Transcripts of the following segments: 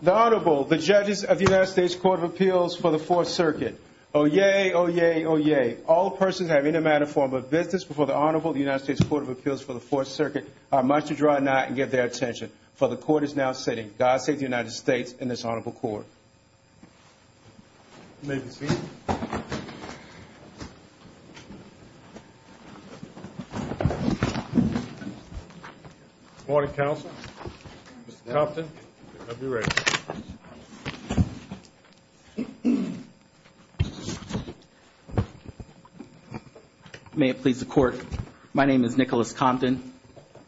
The Honorable, the Judges of the United States Court of Appeals for the Fourth Circuit. Oyez! Oyez! Oyez! All persons who have any manner or form of business before the Honorable of the United States Court of Appeals for the Fourth Circuit are much to draw nigh and get their attention. For the Court is now sitting. God save the United States and this Honorable Court. You may be seated. Good morning, Counsel. Mr. Compton, you may be ready. May it please the Court. My name is Nicholas Compton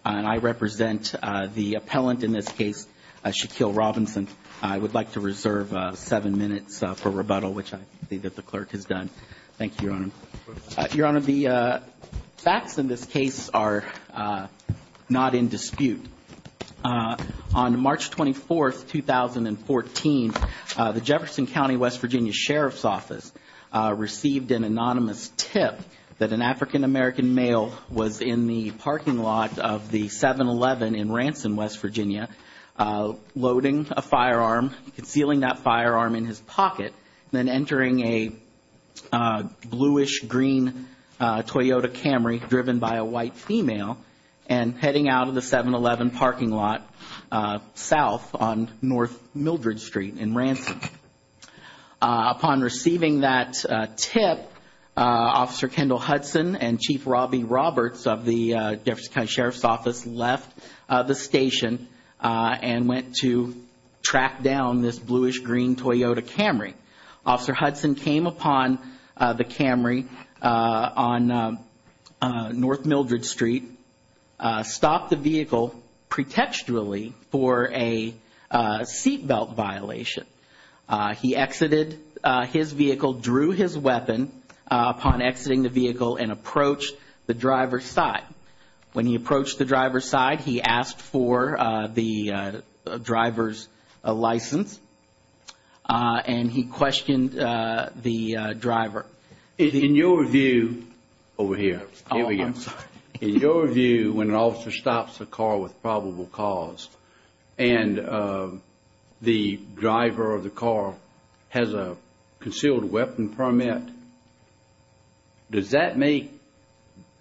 and I represent the appellant in this case, Shaquille Robinson. I would like to reserve seven minutes for rebuttal, which I see that the Clerk has done. Thank you, Your Honor. Your Honor, the facts in this case are not in dispute. On March 24, 2014, the Jefferson County, West Virginia Sheriff's Office received an anonymous tip that an African-American male was in the parking lot of the 7-Eleven in Ransom, West Virginia, loading a firearm, feeling that firearm in his pocket, then entering a bluish-green Toyota Camry driven by a white female and heading out of the 7-Eleven parking lot south on North Mildred Street in Ransom. Upon receiving that tip, Officer Kendall Hudson and Chief Robbie Roberts of the Jefferson County Sheriff's Office left the station and went to track down this bluish-green Toyota Camry. Officer Hudson came upon the Camry on North Mildred Street, stopped the vehicle pretextually for a seatbelt violation. He exited his vehicle, drew his weapon upon exiting the vehicle, and approached the driver's side. When he approached the driver's side, he asked for the driver's license, and he questioned the driver. In your view, over here, in your view, when an officer stops a car with probable cause and the driver of the car has a concealed weapon permit, does that make,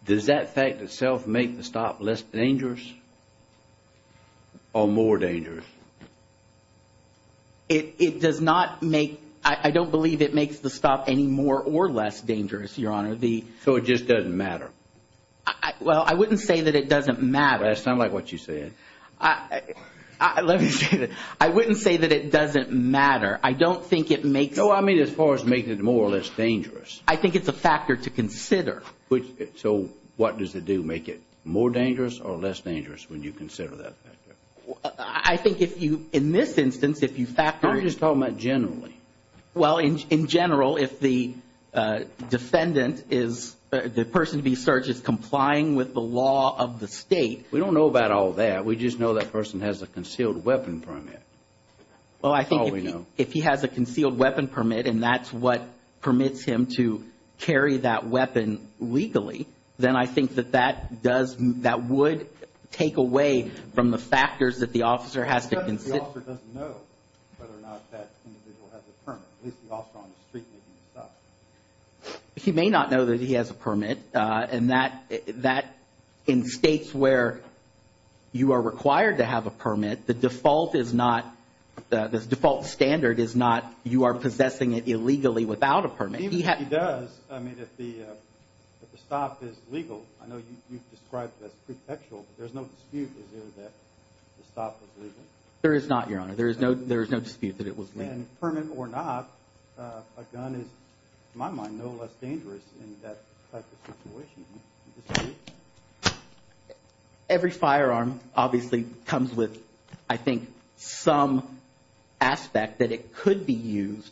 does that fact itself make the stop less dangerous or more dangerous? It does not make, I don't believe it makes the stop any more or less dangerous, Your Honor. So it just doesn't matter? Well, I wouldn't say that it doesn't matter. That's not like what you said. Let me say this. I wouldn't say that it doesn't matter. I don't think it makes... No, I mean as far as making it more or less dangerous. I think it's a factor to consider. So what does it do? Make it more dangerous or less dangerous when you consider that factor? I think if you, in this instance, if you factor... I'm just talking about generally. Well, in general, if the defendant is, the person to be searched is complying with the law of the state... We don't know about all that. We just know that person has a concealed weapon permit. Well, I think if he has a concealed weapon permit, and that's what permits him to carry that weapon legally, then I think that that does, that would take away from the factors that the officer has to consider. The officer doesn't know whether or not that individual has a permit. At least the officer on the street is going to stop him. He may not know that he has a permit, and that, in states where you are required to have a permit, the default is not, the default standard is not you are possessing it illegally without a permit. But even if he does, I mean, if the stop is legal, I know you've described it as prefectural, but there's no dispute that the stop is legal. There is not, Your Honor. There is no dispute that it was legal. And permit or not, a gun is, in my mind, no less dangerous in that type of situation. Every firearm obviously comes with, I think, some aspect that it could be used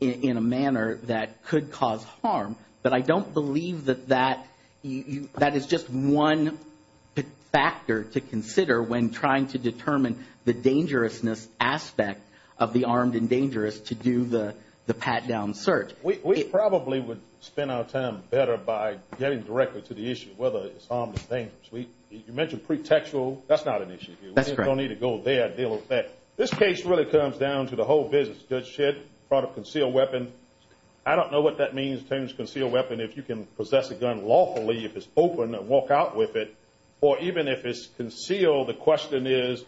in a manner that could cause harm. But I don't believe that that is just one factor to consider when trying to determine the dangerousness aspect of the armed and dangerous to do the pat-down search. We probably would spend our time better by getting directly to the issue of whether it's harmless or dangerous. You mentioned prefectural. That's not an issue here. That's correct. We don't need to go there to deal with that. This case really comes down to the whole business, good, shit, product, concealed weapon. I don't know what that means, terms concealed weapon, if you can possess a gun lawfully, if it's open and walk out with it, or even if it's concealed, the question is,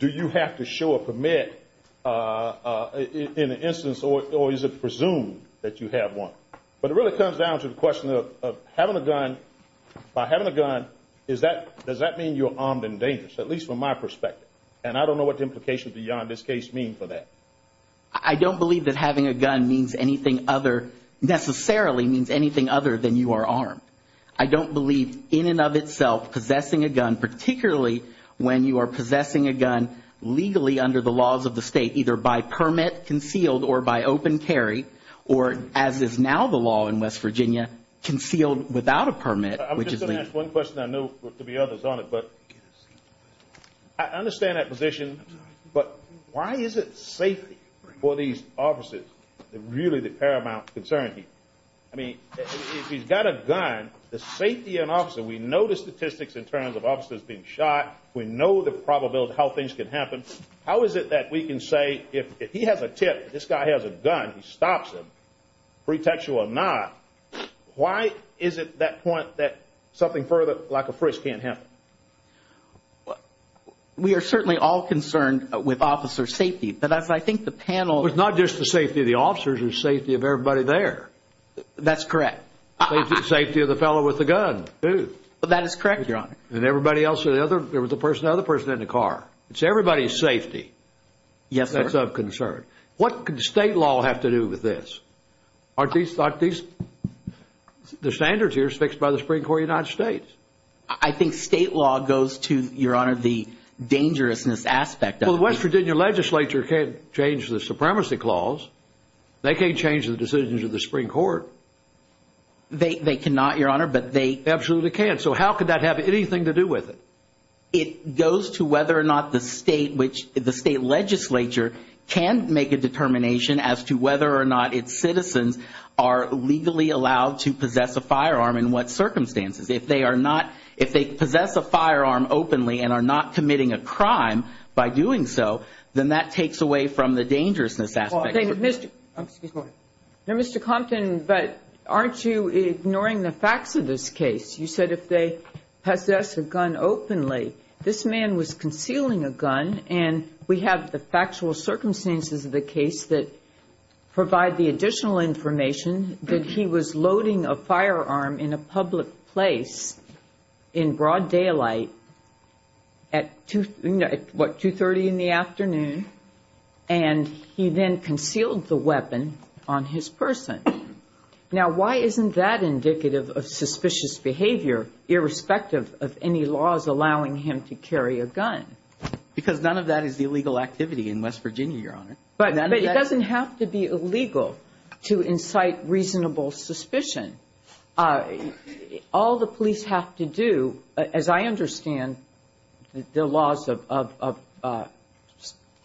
do you have to show a permit in an instance or is it presumed that you have one? But it really comes down to the question of having a gun. By having a gun, does that mean you're armed and dangerous, at least from my perspective? And I don't know what the implications beyond this case mean for that. I don't believe that having a gun necessarily means anything other than you are armed. I don't believe in and of itself possessing a gun, particularly when you are possessing a gun legally under the laws of the state, either by permit, concealed, or by open carry, or as is now the law in West Virginia, concealed without a permit. I'm just going to ask one question. I know there will be others on it. I understand that position, but why is it safe for these officers, really the paramount concern here? I mean, if he's got a gun, the safety of an officer, we know the statistics in terms of officers being shot, we know the probability of how things can happen. How is it that we can say, if he has a tip, this guy has a gun, he stops him, pretextual or not, why is it at that point that something further, like a frisk, can't happen? We are certainly all concerned with officer safety, but I think the panel... It's not just the safety of the officers, it's the safety of everybody there. That's correct. Safety of the fellow with the gun, too. That is correct, Your Honor. And everybody else, the other person in the car. It's everybody's safety. Yes, sir. That's of concern. What could state law have to do with this? Aren't these, the standards here are fixed by the Supreme Court of the United States. I think state law goes to, Your Honor, the dangerousness aspect of it. Well, the West Virginia legislature can't change the supremacy clause. They can't change the decisions of the Supreme Court. They cannot, Your Honor, but they... Absolutely can. So how could that have anything to do with it? It goes to whether or not the state, which the state legislature can make a determination as to whether or not its citizens are legally allowed to possess a firearm in what circumstances. If they are not, if they possess a firearm openly and are not committing a crime by doing so, then that takes away from the dangerousness aspect. Well, then, Mr. Compton, but aren't you ignoring the facts of this case? You said if they possess a gun openly, this man was concealing a gun, and we have the factual circumstances of the case that provide the additional information that he was loading a firearm in a public place in broad daylight at, what, 2.30 in the afternoon, and he then concealed the weapon on his person. Now, why isn't that indicative of suspicious behavior, irrespective of any laws allowing him to carry a gun? Because none of that is illegal activity in West Virginia, Your Honor. But it doesn't have to be illegal to incite reasonable suspicion. All the police have to do, as I understand the laws of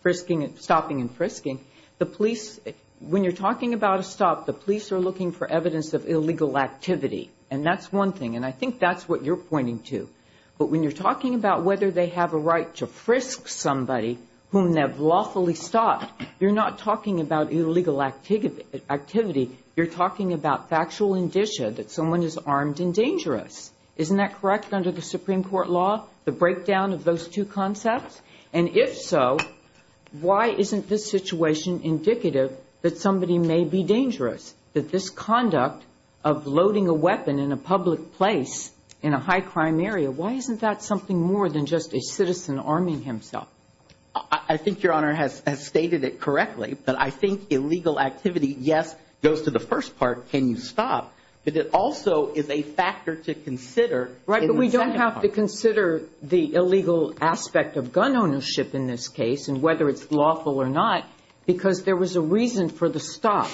frisking and stopping and frisking, the police, when you're talking about a stop, the police are looking for evidence of illegal activity, and that's one thing, and I think that's what you're pointing to. But when you're talking about whether they have a right to frisk somebody whom they've lawfully stopped, you're not talking about illegal activity. You're talking about factual indicia that someone is armed and dangerous. Isn't that correct under the Supreme Court law, the breakdown of those two concepts? And if so, why isn't this situation indicative that somebody may be dangerous, that this conduct of loading a weapon in a public place in a high-crime area, why isn't that something more than just a citizen arming himself? I think Your Honor has stated it correctly, but I think illegal activity, yes, goes to the first part, can you stop, but it also is a factor to consider. Right, but we don't have to consider the illegal aspect of gun ownership in this case, and whether it's lawful or not, because there was a reason for the stop,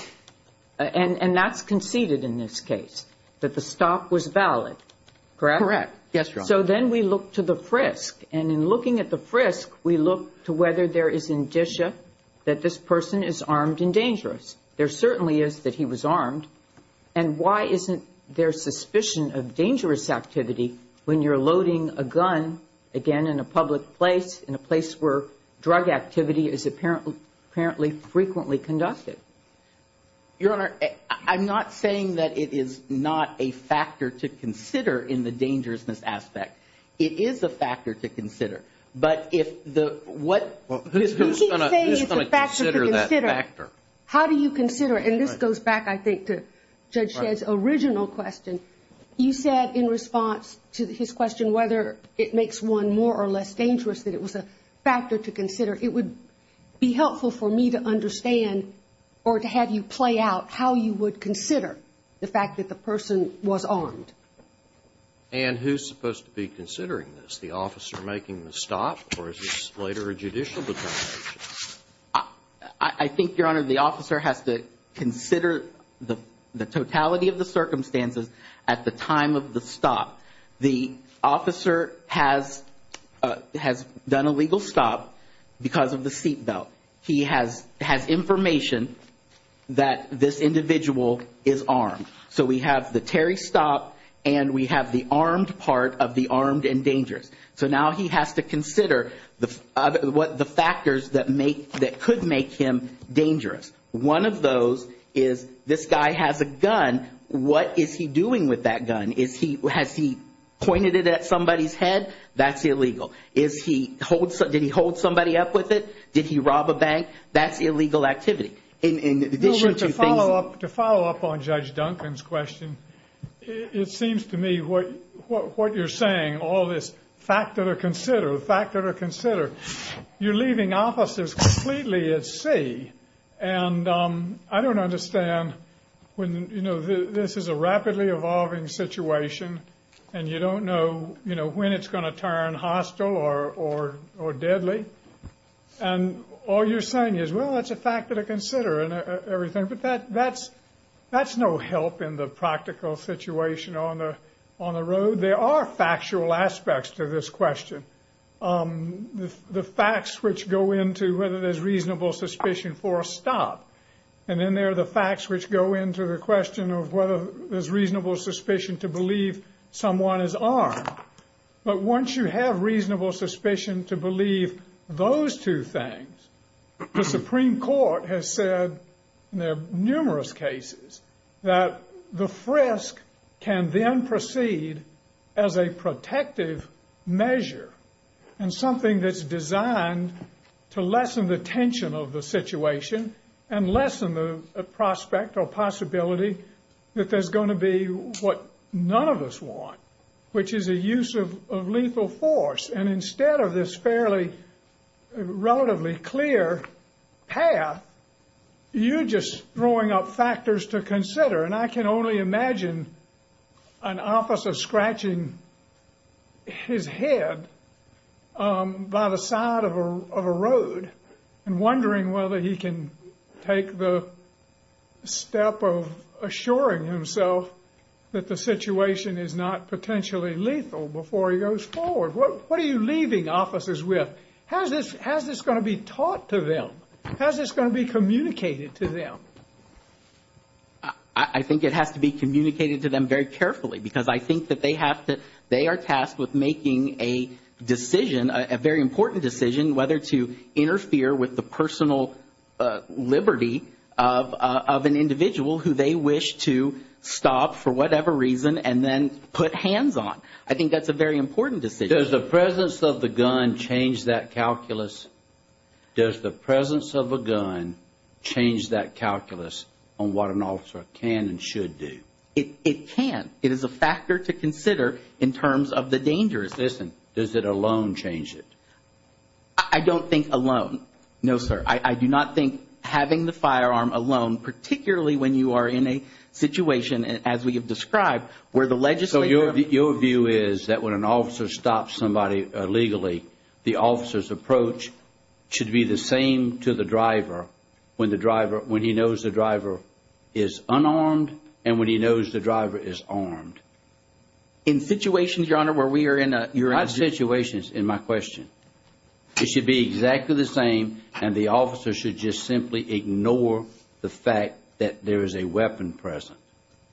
and that's conceded in this case, that the stop was valid, correct? Correct, yes, Your Honor. So then we look to the frisk, and in looking at the frisk, we look to whether there is indicia that this person is armed and dangerous. There certainly is that he was armed, and why isn't there suspicion of dangerous activity when you're loading a gun, again, in a public place, in a place where drug activity is apparently frequently conducted? Your Honor, I'm not saying that it is not a factor to consider in the dangerousness aspect. It is a factor to consider. But if the, what... He's saying it's a factor to consider. How do you consider, and this goes back, I think, to Judge Stead's original question, you said in response to his question whether it makes one more or less dangerous that it was a factor to consider. It would be helpful for me to understand, or to have you play out, how you would consider the fact that the person was armed. And who's supposed to be considering this, the officer making the stop, or is this later a judicial determination? I think, Your Honor, the officer has to consider the totality of the circumstances, at the time of the stop. The officer has done a legal stop because of the seatbelt. He has information that this individual is armed. So we have the Terry stop, and we have the armed part of the armed and dangerous. So now he has to consider the factors that could make him dangerous. One of those is this guy has a gun. What is he doing with that gun? Has he pointed it at somebody's head? That's illegal. Did he hold somebody up with it? Did he rob a bank? That's illegal activity. To follow up on Judge Duncan's question, it seems to me what you're saying, all this factor to consider, factor to consider, you're leaving officers completely at sea. And I don't understand when, you know, this is a rapidly evolving situation, and you don't know, you know, when it's going to turn hostile or deadly. And all you're saying is, well, that's a factor to consider and everything. But that's no help in the practical situation on the road. There are factual aspects to this question. The facts which go into whether there's reasonable suspicion for a stop. And then there are the facts which go into the question of whether there's reasonable suspicion to believe someone is armed. But once you have reasonable suspicion to believe those two things, the Supreme Court has said in numerous cases that the frisk can then proceed as a protective measure and something that's designed to lessen the tension of the situation and lessen the prospect or possibility that there's going to be what none of us want, which is a use of lethal force. And instead of this fairly, relatively clear path, you're just throwing up factors to consider. And I can only imagine an officer scratching his head by the side of a road and wondering whether he can take the step of assuring himself that the What are you leaving officers with? How is this going to be taught to them? How is this going to be communicated to them? I think it has to be communicated to them very carefully because I think that they are tasked with making a decision, a very important decision, whether to interfere with the personal liberty of an individual who they wish to stop for whatever reason and then put hands on. I think that's a very important decision. Does the presence of the gun change that calculus? Does the presence of a gun change that calculus on what an officer can and should do? It can. It is a factor to consider in terms of the dangers. Listen, does it alone change it? I don't think alone. No, sir. I do not think having the firearm alone, particularly when you are in a situation, as we have described, where the legislature So your view is that when an officer stops somebody illegally, the officer's approach should be the same to the driver when the driver, when he knows the driver is unarmed and when he knows the driver is armed. In situations, Your Honor, where we are in a I have situations in my question. It should be exactly the same and the officer should just simply ignore the fact that there is a weapon present.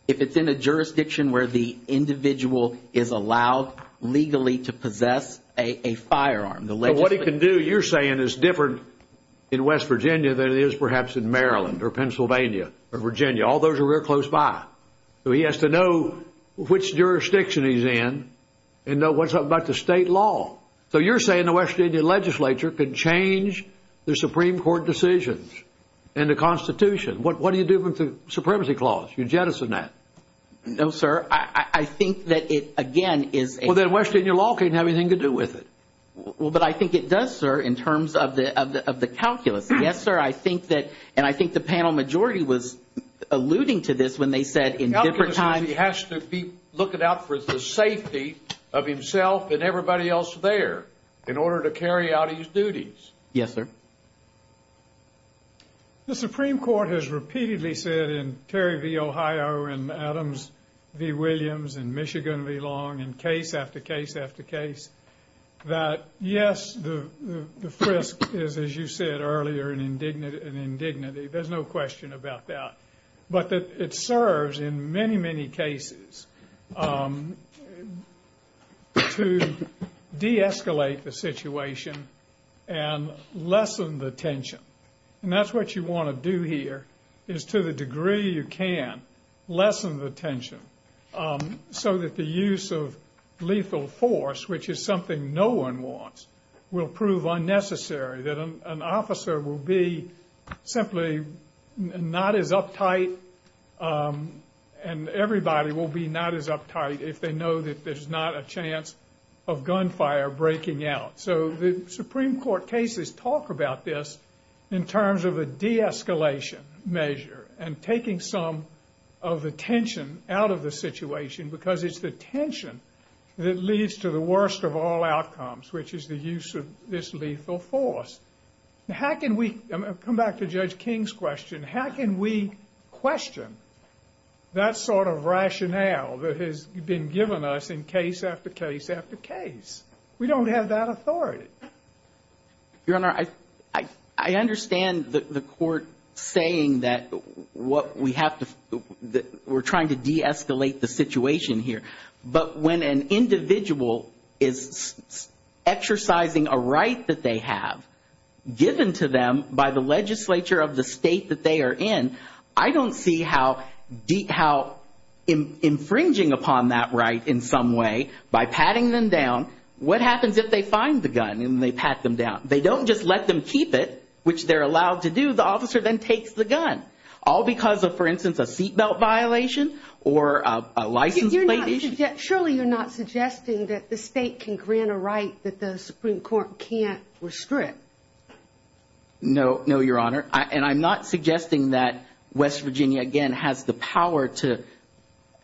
If it's in a jurisdiction where the individual is allowed legally to possess a firearm, What he can do, you're saying, is different in West Virginia than it is perhaps in Maryland or Pennsylvania or Virginia. All those are real close by. So he has to know which jurisdiction he's in and know what's up about the state law. So you're saying the West Virginia legislature can change the Supreme Court decisions and the Constitution. What do you do with the Supremacy Clause? You jettison that. No, sir. I think that it, again, is Well, then West Virginia law can't have anything to do with it. Well, but I think it does, sir, in terms of the calculus. Yes, sir, I think that, and I think the panel majority was alluding to this when they said in different times He has to be looking out for the safety of himself and everybody else there in order to carry out his duties. Yes, sir. The Supreme Court has repeatedly said in Terry v. Ohio and Adams v. Williams and Michigan v. Long and case after case after case that, yes, the frisk is, as you said earlier, an indignity. There's no question about that. But it serves in many, many cases to de-escalate the situation and lessen the tension. And that's what you want to do here, is to the degree you can, lessen the tension so that the use of lethal force, which is something no one wants, will prove unnecessary, that an officer will be simply not as uptight and everybody will be not as uptight if they know that there's not a chance of gunfire breaking out. So the Supreme Court cases talk about this in terms of a de-escalation measure and taking some of the tension out of the situation because it's the tension that leads to the worst of all outcomes, which is the use of this lethal force. How can we, come back to Judge King's question, how can we question that sort of rationale that has been given us in case after case after case? We don't have that authority. Your Honor, I understand the court saying that we're trying to de-escalate the situation here. But when an individual is exercising a right that they have given to them by the legislature of the state that they are in, I don't see how infringing upon that right in some way, by patting them down, what happens if they find the gun and they pat them down? They don't just let them keep it, which they're allowed to do, the officer then takes the gun. All because of, for instance, a seat belt violation or a license plate issue. Surely you're not suggesting that the state can grant a right that the Supreme Court can't restrict. No, Your Honor. Your Honor, and I'm not suggesting that West Virginia, again, has the power to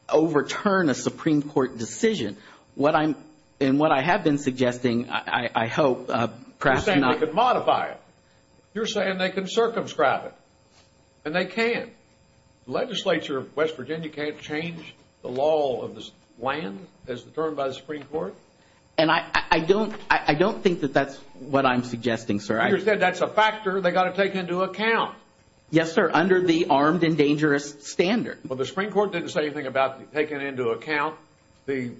overturn a Supreme Court decision. In what I have been suggesting, I hope perhaps... You're saying they can modify it. You're saying they can circumscribe it. And they can. The legislature of West Virginia can't change the law of the land as determined by the Supreme Court? And I don't think that that's what I'm suggesting, sir. You said that's a factor they've got to take into account. Yes, sir, under the armed and dangerous standard. Well, the Supreme Court didn't say anything about taking into account the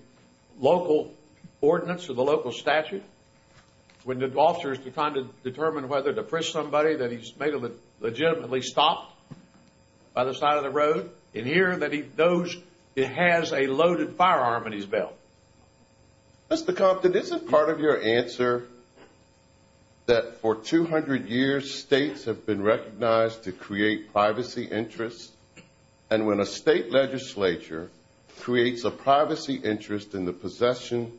local ordinance or the local statute when the officer is trying to determine whether to push somebody that he's legitimately stopped by the side of the road, and here that he knows he has a loaded firearm in his belt. Mr. Compton, isn't part of your answer that for 200 years, states have been recognized to create privacy interests, and when a state legislature creates a privacy interest in the possession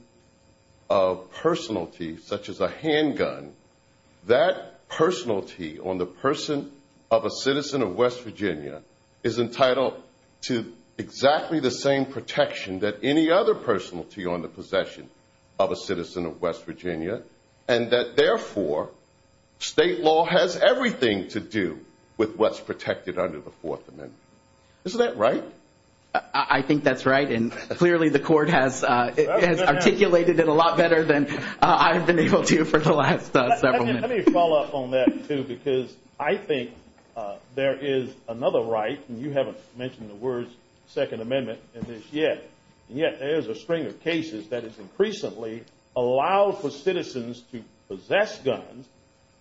of personalities, such as a handgun, that personality on the person of a citizen of West Virginia is entitled to exactly the same protection that any other personality on the possession of a citizen of West Virginia, and that, therefore, state law has everything to do with what's protected under the Fourth Amendment? Isn't that right? I think that's right, and clearly the Court has articulated it a lot better than I've been able to for the last several minutes. Let me follow up on that, too, because I think there is another right, and you haven't mentioned the words Second Amendment in this yet, and yet there is a string of cases that has increasingly allowed for citizens to possess guns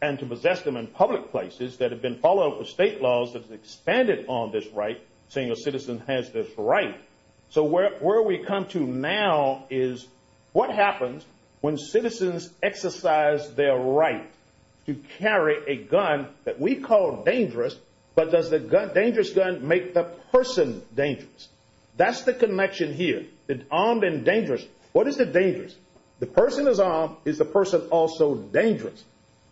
and to possess them in public places that have been followed up with state laws that have expanded on this right, saying a citizen has this right. So where we come to now is what happens when citizens exercise their right to carry a gun that we call dangerous, but does the dangerous gun make the person dangerous? That's the connection here. It's armed and dangerous. What is it dangerous? The person is armed. Is the person also dangerous?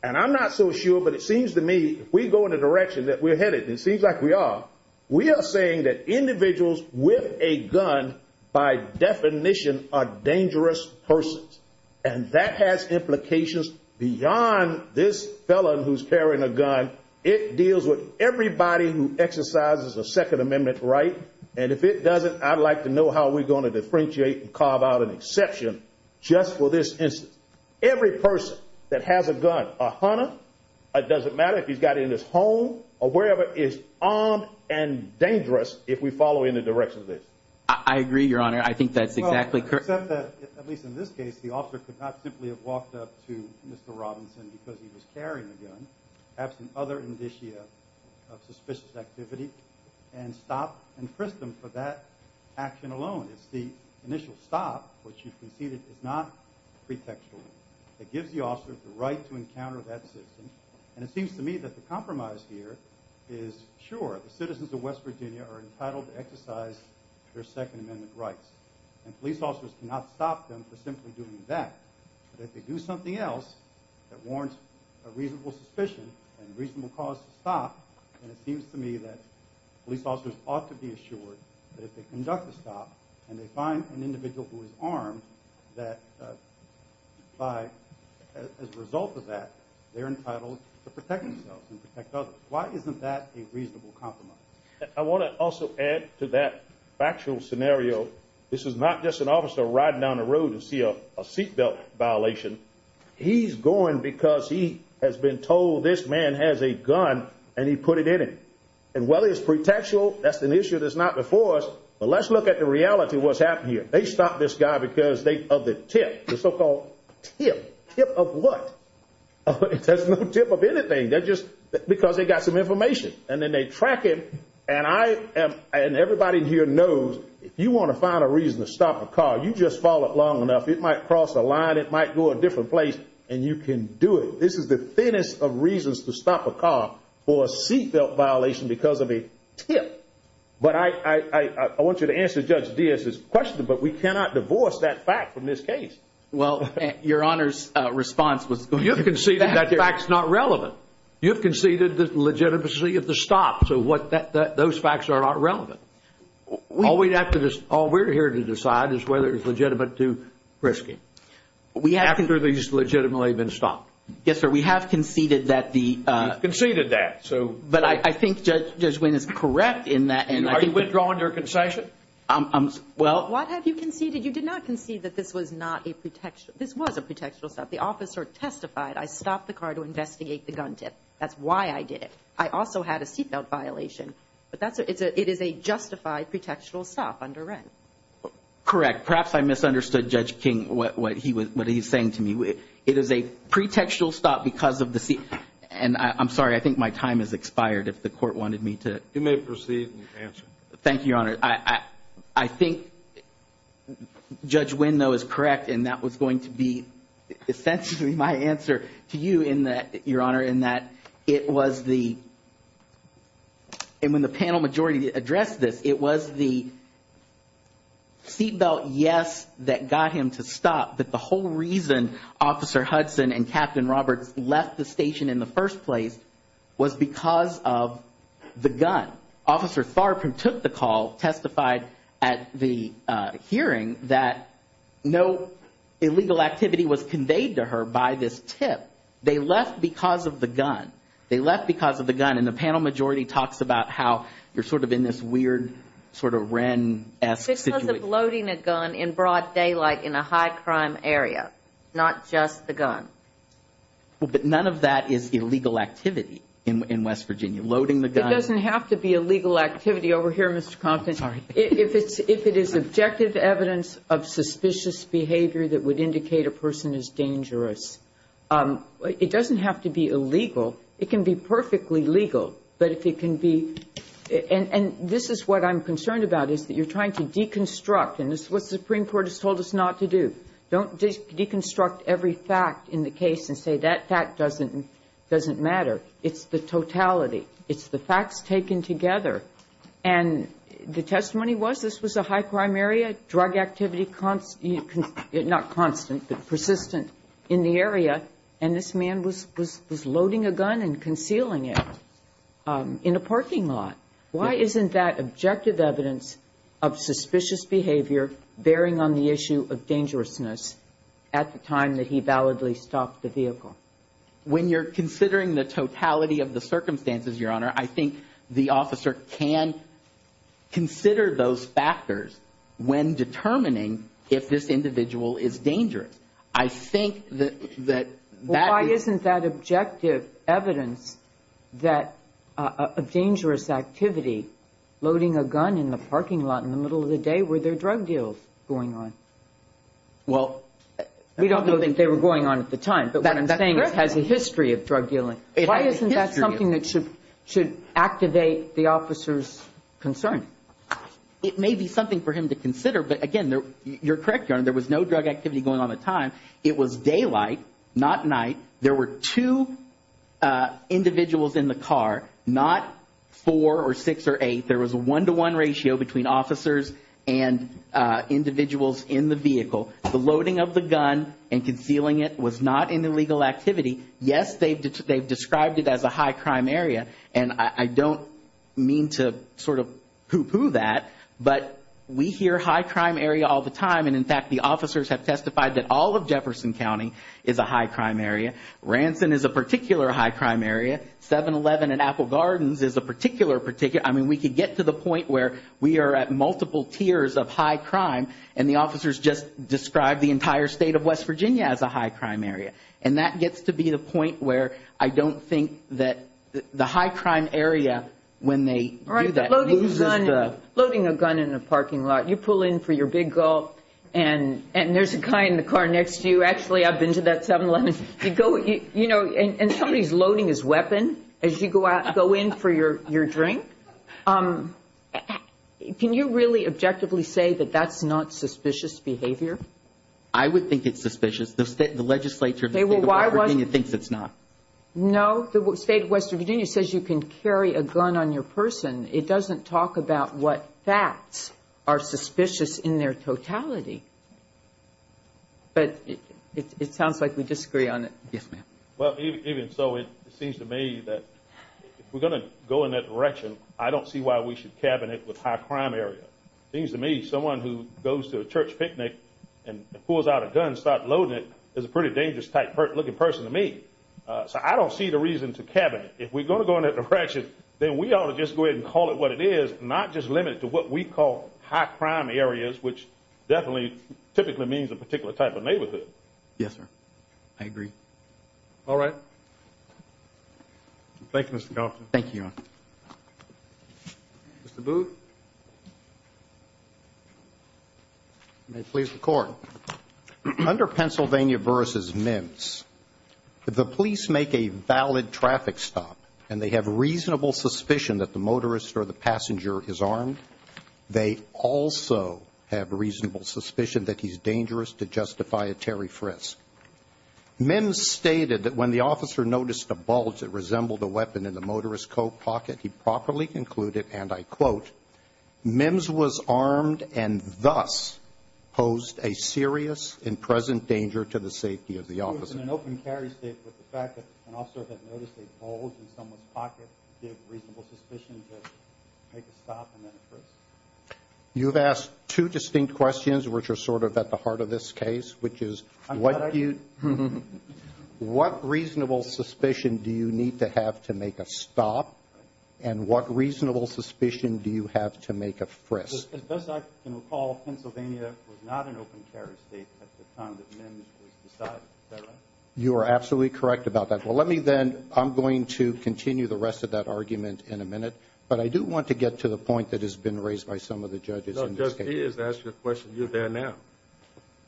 And I'm not so sure, but it seems to me if we go in the direction that we're headed, and it seems like we are, we are saying that individuals with a gun, by definition, are dangerous persons, and that has implications beyond this felon who's carrying a gun. It deals with everybody who exercises a Second Amendment right, and if it doesn't, I'd like to know how we're going to differentiate and carve out an exception just for this instance. Every person that has a gun, a hunter, it doesn't matter if he's got it in his home or wherever, is armed and dangerous if we follow in the direction of this. I agree, Your Honor. I think that's exactly correct. Well, except that, at least in this case, the officer could not simply have walked up to Mr. Robinson because he was carrying a gun, absent other indicia of suspicious activity, and stopped and frisked him for that action alone. The initial stop, which you conceded, is not pretextual. It gives the officer the right to encounter that system, and it seems to me that the compromise here is, sure, the citizens of West Virginia are entitled to exercise their Second Amendment rights, and police officers cannot stop them for simply doing that. But if they do something else that warrants a reasonable suspicion and reasonable cause to stop, then it seems to me that police officers ought to be assured that if they conduct a stop and they find an individual who is armed, that as a result of that, they're entitled to protect themselves and protect others. Why isn't that a reasonable compromise? I want to also add to that factual scenario. This is not just an officer riding down the road to see a seatbelt violation. He's going because he has been told this man has a gun and he put it in him. And while it's pretextual, that's an issue that's not before us, but let's look at the reality of what's happening here. They stopped this guy because of the tip, the so-called tip. Tip of what? There's no tip of anything. They're just because they got some information. And then they track him, and everybody here knows if you want to find a reason to stop a car, you just follow it long enough. It might cross a line. It might go a different place, and you can do it. This is the thinnest of reasons to stop a car for a seatbelt violation because of a tip. But I want you to answer Judge Diaz's question, but we cannot divorce that fact from this case. Well, your Honor's response was, you've conceded that fact's not relevant. You've conceded the legitimacy of the stop, so those facts are not relevant. All we have to decide, all we're here to decide is whether it's legitimate to risk it. Have these legitimately been stopped? Yes, sir. We have conceded that the- Conceded that, so- But I think Judge Wynn is correct in that- Are you withdrawing your concession? Well- What have you conceded? You did not concede that this was not a pretextual-this was a pretextual stop. The officer testified, I stopped the car to investigate the gun tip. That's why I did it. I also had a seatbelt violation. It is a justified pretextual stop under Wren. Correct. Perhaps I misunderstood Judge King, what he was saying to me. It is a pretextual stop because of the- And I'm sorry, I think my time has expired if the court wanted me to- You may proceed with your answer. Thank you, Your Honor. I think Judge Wynn, though, is correct, and that was going to be essentially my answer to you in that, Your Honor, in that it was the-and when the panel majority addressed this, it was the seatbelt, yes, that got him to stop, but the whole reason Officer Hudson and Captain Roberts left the station in the first place was because of the gun. Officer Tharp, who took the call, testified at the hearing that no illegal activity was conveyed to her by this tip. They left because of the gun. They left because of the gun, and the panel majority talks about how you're sort of in this weird sort of Wren-esque situation. Because of loading a gun in broad daylight in a high-crime area, not just the gun. Well, but none of that is illegal activity in West Virginia. Loading the gun- It doesn't have to be illegal activity over here, Mr. Compton. Sorry. If it is objective evidence of suspicious behavior that would indicate a person is dangerous, it doesn't have to be illegal. It can be perfectly legal, but if it can be-and this is what I'm concerned about is that you're trying to deconstruct, and this is what the Supreme Court has told us not to do. Don't just deconstruct every fact in the case and say that fact doesn't matter. It's the totality. It's the facts taken together. And the testimony was this was a high-crime area. Drug activity, not constant, but persistent in the area, and this man was loading a gun and concealing it in a parking lot. Why isn't that objective evidence of suspicious behavior bearing on the issue of dangerousness at the time that he validly stopped the vehicle? When you're considering the totality of the circumstances, Your Honor, I think the officer can consider those factors when determining if this individual is dangerous. I think that- Why isn't that objective evidence that a dangerous activity, loading a gun in the parking lot in the middle of the day, were there drug deals going on? Well, we don't think they were going on at the time, but I'm saying it had a history of drug dealing. Why isn't that something that should activate the officer's concern? It may be something for him to consider, but again, you're correct, Your Honor, there was no drug activity going on at the time. It was daylight, not night. There were two individuals in the car, not four or six or eight. There was a one-to-one ratio between officers and individuals in the vehicle. The loading of the gun and concealing it was not an illegal activity. Yes, they've described it as a high-crime area, and I don't mean to sort of pooh-pooh that, but we hear high-crime area all the time, and in fact, the officers have testified that all of Jefferson County is a high-crime area. Ransom is a particular high-crime area. 7-Eleven and Apple Gardens is a particular particular. I mean, we could get to the point where we are at multiple tiers of high-crime, and the officers just described the entire state of West Virginia as a high-crime area, and that gets to be the point where I don't think that the high-crime area, when they do that, loses the- Loading a gun in a parking lot, you pull in for your big gulp, and there's a guy in the car next to you. Actually, I've been to that 7-Eleven. And somebody's loading his weapon as you go in for your drink. Can you really objectively say that that's not suspicious behavior? I would think it's suspicious. The legislature of West Virginia thinks it's not. No, the state of West Virginia says you can carry a gun on your person. It doesn't talk about what facts are suspicious in their totality. But it sounds like we disagree on that. Yes, ma'am. Well, even so, it seems to me that if we're going to go in that direction, I don't see why we should cabinet with high-crime area. It seems to me someone who goes to a church picnic and pulls out a gun and starts loading it is a pretty dangerous-type looking person to me. So I don't see the reason to cabinet. If we're going to go in that direction, then we ought to just go ahead and call it what it is, not just limit it to what we call high-crime areas, which definitely typically means a particular type of neighborhood. Yes, sir. I agree. All right. Thank you, Mr. Johnson. Thank you. Mr. Booth. You may please record. Under Pennsylvania versus MIMS, the police make a valid traffic stop, and they have reasonable suspicion that the motorist or the passenger is armed. They also have reasonable suspicion that he's dangerous to justify a Terry Frisk. MIMS stated that when the officer noticed a bulge that resembled a weapon in the motorist's coat pocket, he properly concluded, and I quote, MIMS was armed and thus posed a serious and present danger to the safety of the officer. The officer was in an open carry state, but the fact that the officer had noticed a bulge in someone's pocket gave reasonable suspicion to make a stop and then a Frisk. You've asked two distinct questions, which are sort of at the heart of this case, which is what do you... What reasonable suspicion do you need to have to make a stop, because as I recall, Pennsylvania was not an open carry state at the time that MIMS was decided. Is that right? You are absolutely correct about that. Well, let me then... I'm going to continue the rest of that argument in a minute, but I do want to get to the point that has been raised by some of the judges in this case. No, just ask your question. You're there now.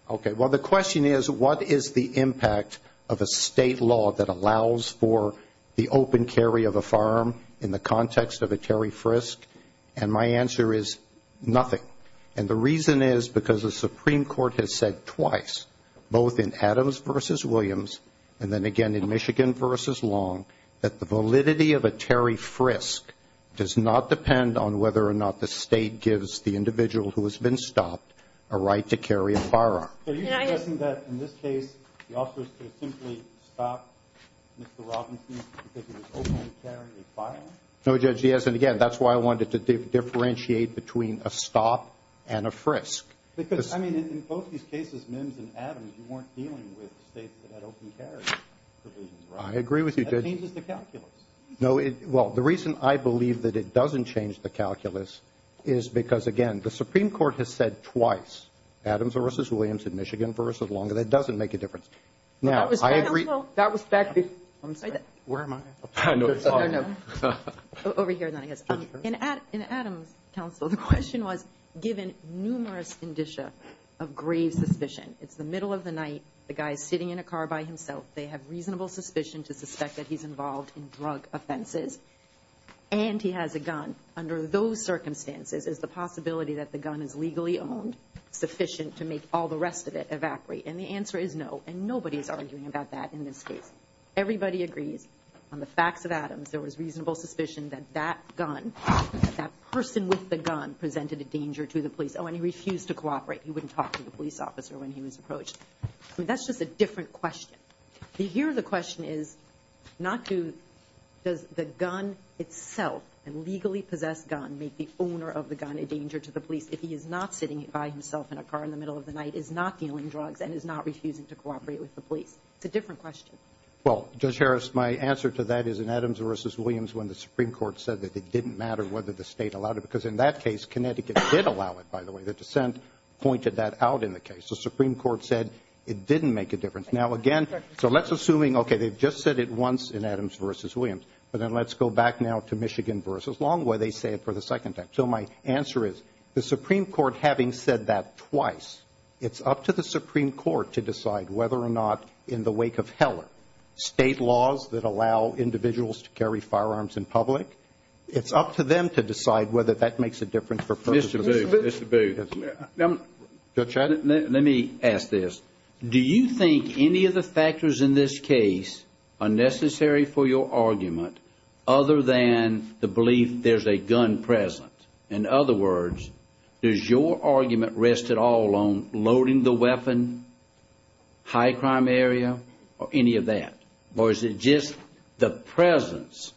Okay. Well, the question is, what is the impact of a state law that allows for the open carry of a firearm in the context of a Terry Frisk? And my answer is nothing. And the reason is because the Supreme Court has said twice, both in Adams v. Williams and then again in Michigan v. Long, that the validity of a Terry Frisk does not depend on whether or not the state gives the individual who has been stopped a right to carry a firearm. So you're suggesting that in this case, the officers could have simply stopped Mr. Robinson from taking an open carry firearm? No, Judge, he hasn't. And again, that's why I wanted to differentiate between a stop and a Frisk. Because, I mean, in both these cases, Mims and Adams, you weren't dealing with states that had open carry provisions, right? I agree with you, Judge. That changes the calculus. No, it... Well, the reason I believe that it doesn't change the calculus is because, again, the Supreme Court has said twice, Adams v. Williams and Michigan v. Long, that it doesn't make a difference. Now, I agree... That was back... I'm sorry. Where am I? I know. Over here. In Adams' counsel, the question was, given numerous indicia of grave suspicion, it's the middle of the night, the guy is sitting in a car by himself, they have reasonable suspicion to suspect that he's involved in drug offenses, and he has a gun. Under those circumstances, is the possibility that the gun is legally owned sufficient to make all the rest of it evaporate? And the answer is no, and nobody is arguing about that in this case. Everybody agrees on the facts of Adams, there was reasonable suspicion that that gun, that person with the gun, presented a danger to the police. Oh, and he refused to cooperate. He wouldn't talk to the police officer when he was approached. That's just a different question. Here, the question is not to... Does the gun itself, a legally possessed gun, make the owner of the gun a danger to the police if he is not sitting by himself in a car in the middle of the night, is not dealing drugs, and is not refusing to cooperate with the police? It's a different question. Well, Judge Harris, my answer to that is in Adams v. Williams when the Supreme Court said that it didn't matter whether the state allowed it, because in that case, Connecticut did allow it, by the way. Their dissent pointed that out in the case. The Supreme Court said it didn't make a difference. Now, again, so let's assume, okay, they just said it once in Adams v. Williams, but then let's go back now to Michigan v. Long, where they say it for the second time. So my answer is, the Supreme Court having said that twice, it's up to the Supreme Court to decide whether or not, in the wake of Heller, state laws that allow individuals to carry firearms in public, it's up to them to decide whether that makes a difference for purposes of... Mr. Booth, Mr. Booth. Let me ask this. Do you think any of the factors in this case are necessary for your argument other than the belief there's a gun presence? In other words, does your argument rest at all on loading the weapon, high crime area, or any of that? Or is it just the presence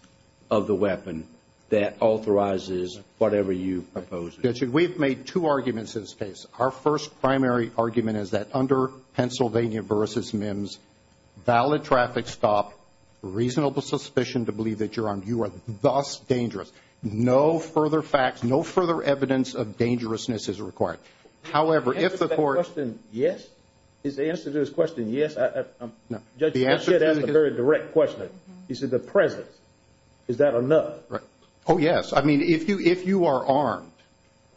of the weapon that authorizes whatever you propose? We've made two arguments in this case. Our first primary argument is that under Pennsylvania v. MIMS, valid traffic stop, reasonable suspicion to believe that you are thus dangerous, no further facts, no further evidence of dangerousness is required. However, if the court... Is the answer to this question yes? No. Judge, that's a very direct question. You said the presence. Is that enough? Oh, yes. I mean, if you are armed,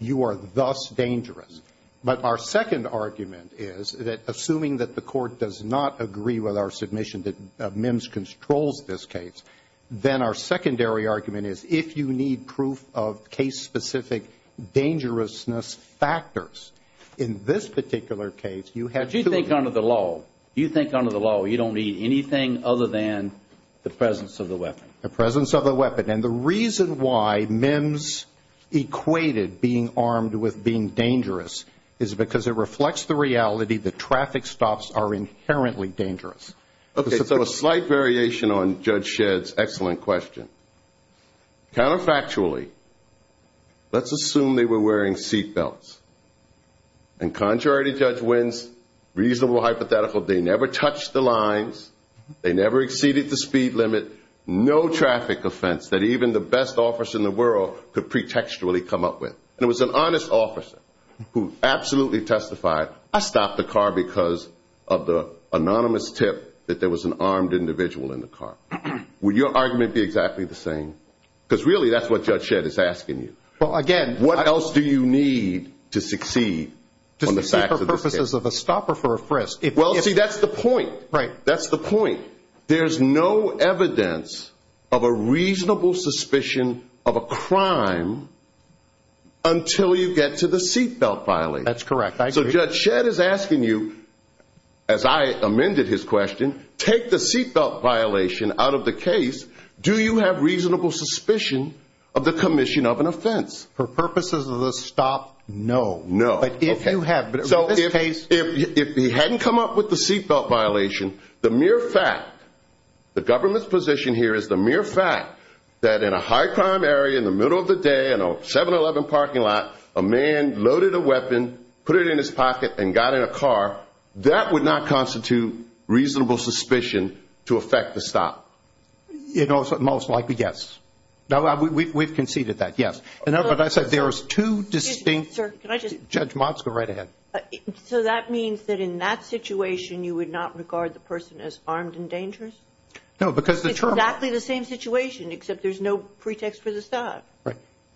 you are thus dangerous. But our second argument is that, assuming that the court does not agree with our submission that MIMS controls this case, then our secondary argument is, if you need proof of case-specific dangerousness factors in this particular case, you have to... But you think under the law. You think under the law you don't need anything other than the presence of the weapon. The presence of the weapon. And the reason why MIMS equated being armed with being dangerous is because it reflects the reality that traffic stops are inherently dangerous. Okay. So a slight variation on Judge Shedd's excellent question. Counterfactually, let's assume they were wearing seatbelts. And contrary to Judge Wins, reasonable hypothetical, they never touched the lines. They never exceeded the speed limit. No traffic offense that even the best officer in the world could pretextually come up with. And it was an honest officer who absolutely testified, I stopped the car because of the anonymous tip that there was an armed individual in the car. Would your argument be exactly the same? Because really that's what Judge Shedd is asking you. Well, again... What else do you need to succeed? To succeed for purposes of a stop or for a frisk. Well, see, that's the point. Right. That's the point. There's no evidence of a reasonable suspicion of a crime until you get to the seatbelt filing. That's correct. So Judge Shedd is asking you, as I amended his question, take the seatbelt violation out of the case. Do you have reasonable suspicion of the commission of an offense? For purposes of a stop, no. No. But if you had... So if he hadn't come up with the seatbelt violation, the mere fact, the government's position here is the mere fact that in a high crime area in the middle of the day, in a 7-Eleven parking lot, a man loaded a weapon, put it in his pocket, and got in a car, that would not constitute reasonable suspicion to affect the stop. Most likely, yes. We've conceded that, yes. But I said there was two distinct... Sir, can I just... Judge Monska, right ahead. So that means that in that situation you would not regard the person as armed and dangerous? No, because the... Exactly the same situation, except there's no pretext for the stop.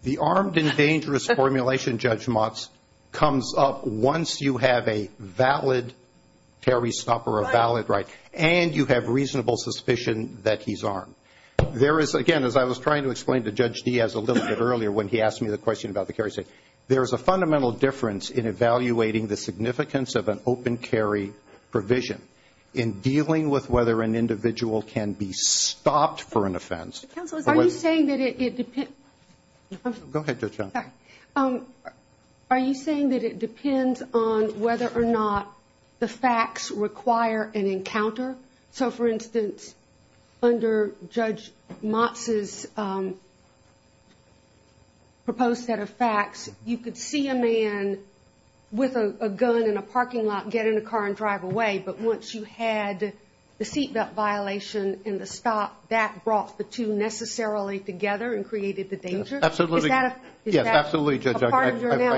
The armed and dangerous formulation, Judge Monsk, comes up once you have a valid carry stop or a valid right, and you have reasonable suspicion that he's armed. There is, again, as I was trying to explain to Judge Diaz a little bit earlier when he asked me the question about the carry stop, there is a fundamental difference in evaluating the significance of an open carry provision in dealing with whether an individual can be stopped for an offense. Are you saying that it depends... Go ahead, Judge Johnson. Are you saying that it depends on whether or not the facts require an encounter? So, for instance, under Judge Monska's proposed set of facts, you could see a man with a gun in a parking lot get in a car and drive away, but once you had the seatbelt violation in the stop, that brought the two necessarily together and created the danger? Is that a part of your analysis? Yes, absolutely, Judge. I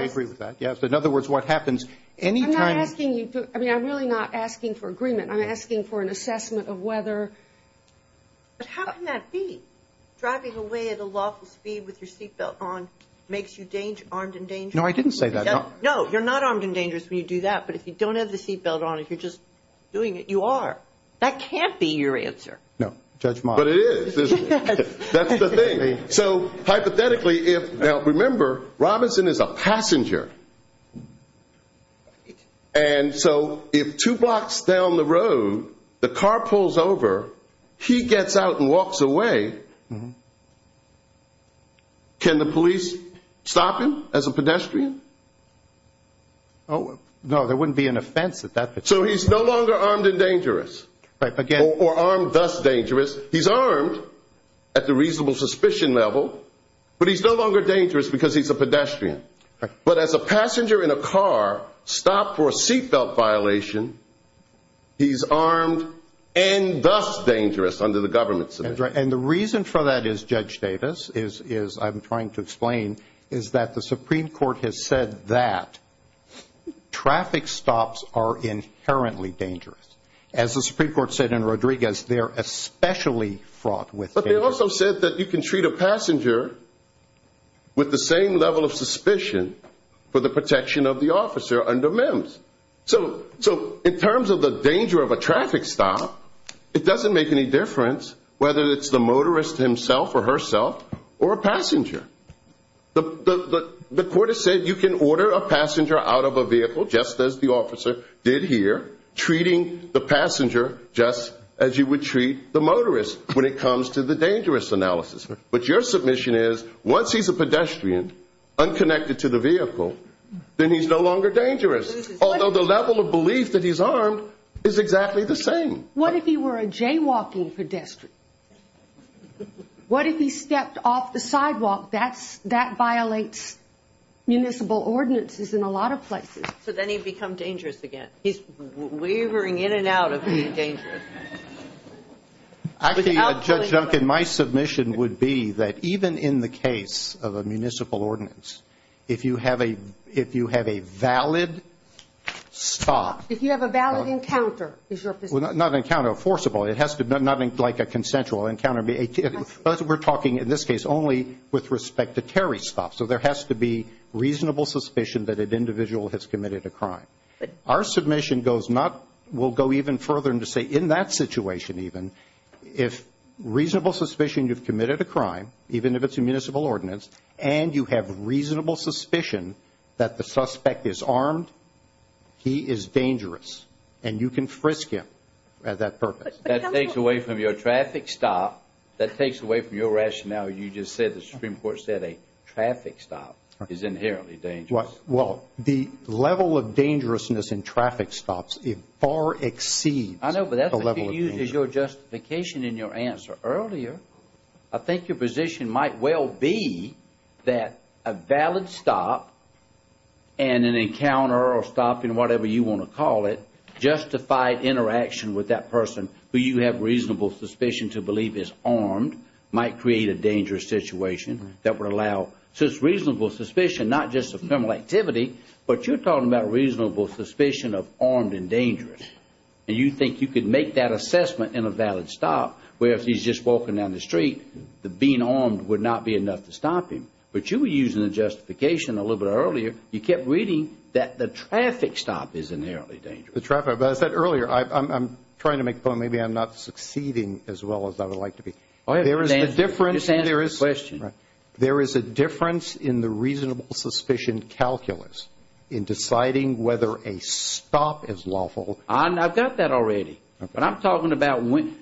agree with that. Yes, in other words, what happens any time... I'm not asking you to... I mean, I'm really not asking for agreement. I'm asking for an assessment of whether... But how can that be? Driving away at a lawful speed with your seatbelt on makes you armed and dangerous? No, I didn't say that. No, you're not armed and dangerous when you do that, but if you don't have the seatbelt on and you're just doing it, you are. That can't be your answer. No, Judge Monska... But it is. That's the thing. So, hypothetically, if... Now, remember, Robinson is a passenger, and so if two blocks down the road the car pulls over, can the police stop him as a pedestrian? No, there wouldn't be an offense if that... So, he's no longer armed and dangerous. Right, again... Or armed, thus, dangerous. He's armed at the reasonable suspicion level, but he's no longer dangerous because he's a pedestrian. But as a passenger in a car stopped for a seatbelt violation, he's armed and thus dangerous under the government system. That's right, and the reason for that is, Judge Davis, as I'm trying to explain, is that the Supreme Court has said that traffic stops are inherently dangerous. As the Supreme Court said in Rodriguez, they're especially fraught with danger. But they also said that you can treat a passenger with the same level of suspicion for the protection of the officer under MIMS. So, in terms of the danger of a traffic stop, it doesn't make any difference whether it's the motorist himself or herself, or a passenger. The court has said you can order a passenger out of a vehicle, just as the officer did here, treating the passenger just as you would treat the motorist when it comes to the dangerous analysis. But your submission is, once he's a pedestrian, unconnected to the vehicle, then he's no longer dangerous. Although the level of belief that he's armed is exactly the same. What if he were a jaywalking pedestrian? What if he stepped off the sidewalk? That violates municipal ordinances in a lot of places. So then he'd become dangerous again. He's wavering in and out of being dangerous. My submission would be that even in the case of a municipal ordinance, if you have a valid stop... It has to not be like a consensual encounter. We're talking, in this case, only with respect to carry stops. So there has to be reasonable suspicion that an individual has committed a crime. Our submission will go even further and say, in that situation even, if reasonable suspicion you've committed a crime, even if it's a municipal ordinance, and you have reasonable suspicion that the suspect is armed, he is dangerous, and you can frisk him at that purpose. That takes away from your traffic stop. That takes away from your rationale. You just said the Supreme Court said a traffic stop is inherently dangerous. Well, the level of dangerousness in traffic stops far exceeds the level of danger. I know, but that would be your justification in your answer. Earlier, I think your position might well be that a valid stop and an encounter or stopping, whatever you want to call it, justified interaction with that person who you have reasonable suspicion to believe is armed might create a dangerous situation that would allow reasonable suspicion, not just of criminal activity, but you're talking about reasonable suspicion of armed and dangerous. Do you think you could make that assessment in a valid stop where if he's just walking down the street, being armed would not be enough to stop him? But you were using the justification a little bit earlier. You kept reading that the traffic stop is inherently dangerous. The traffic stop. But I said earlier, I'm trying to make a point. Maybe I'm not succeeding as well as I would like to be. There is a difference in the reasonable suspicion calculus in deciding whether a stop is lawful. I've got that already. But I'm talking about when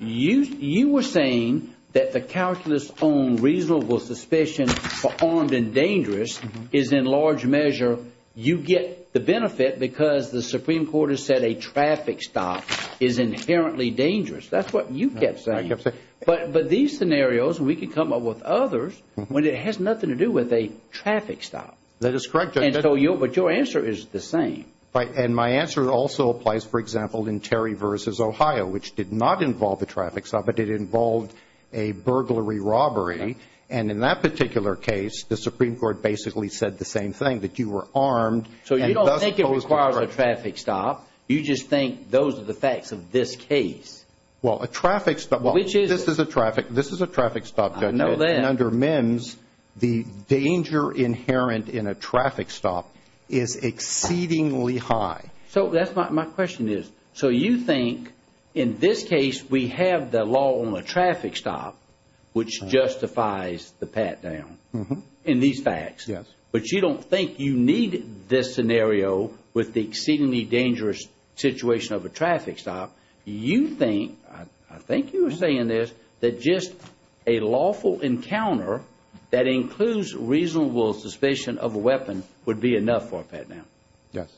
you were saying that the calculus on reasonable suspicion for armed and dangerous is in large measure you get the benefit because the Supreme Court has said a traffic stop is inherently dangerous. That's what you kept saying. But these scenarios, we could come up with others when it has nothing to do with a traffic stop. That is correct. But your answer is the same. And my answer also applies, for example, in Terry v. Ohio, which did not involve a traffic stop. It involved a burglary robbery. And in that particular case, the Supreme Court basically said the same thing, that you were armed. So you don't think it required a traffic stop. You just think those are the facts of this case. Well, a traffic stop. This is a traffic stop judgment. I know that. And under MIMS, the danger inherent in a traffic stop is exceedingly high. So that's what my question is. So you think in this case we have the law on a traffic stop, which justifies the pat-down in these facts. Yes. But you don't think you need this scenario with the exceedingly dangerous situation of a traffic stop. You think, I think you were saying this, that just a lawful encounter that includes reasonable suspicion of a weapon would be enough for a pat-down. Yes.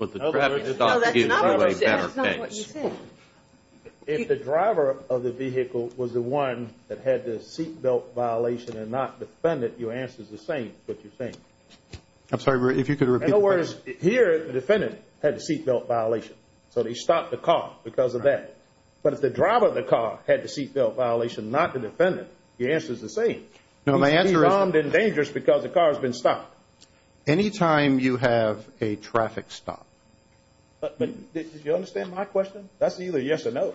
No, that's not what you said. That's not what you said. If the driver of the vehicle was the one that had the seat belt violation and not the defendant, your answer is the same, but you're saying. I'm sorry, if you could repeat that. In other words, here the defendant had the seat belt violation. So they stopped the car because of that. But if the driver of the car had the seat belt violation, not the defendant, your answer is the same. He's armed and dangerous because the car has been stopped. Any time you have a traffic stop. Did you understand my question? That's either yes or no.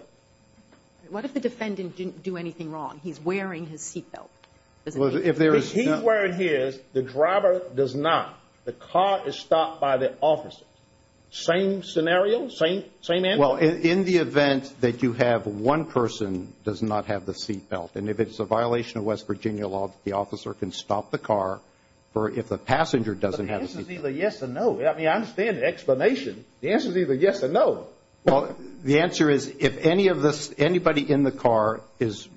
What if the defendant didn't do anything wrong? He's wearing his seat belt. If he's wearing his, the driver does not. The car is stopped by the officer. Same scenario? Same answer? Well, in the event that you have one person does not have the seat belt, and if it's a violation of West Virginia law, the officer can stop the car if the passenger doesn't have the seat belt. But the answer is either yes or no. I mean, I understand the explanation. The answer is either yes or no. Well, the answer is if anybody in the car is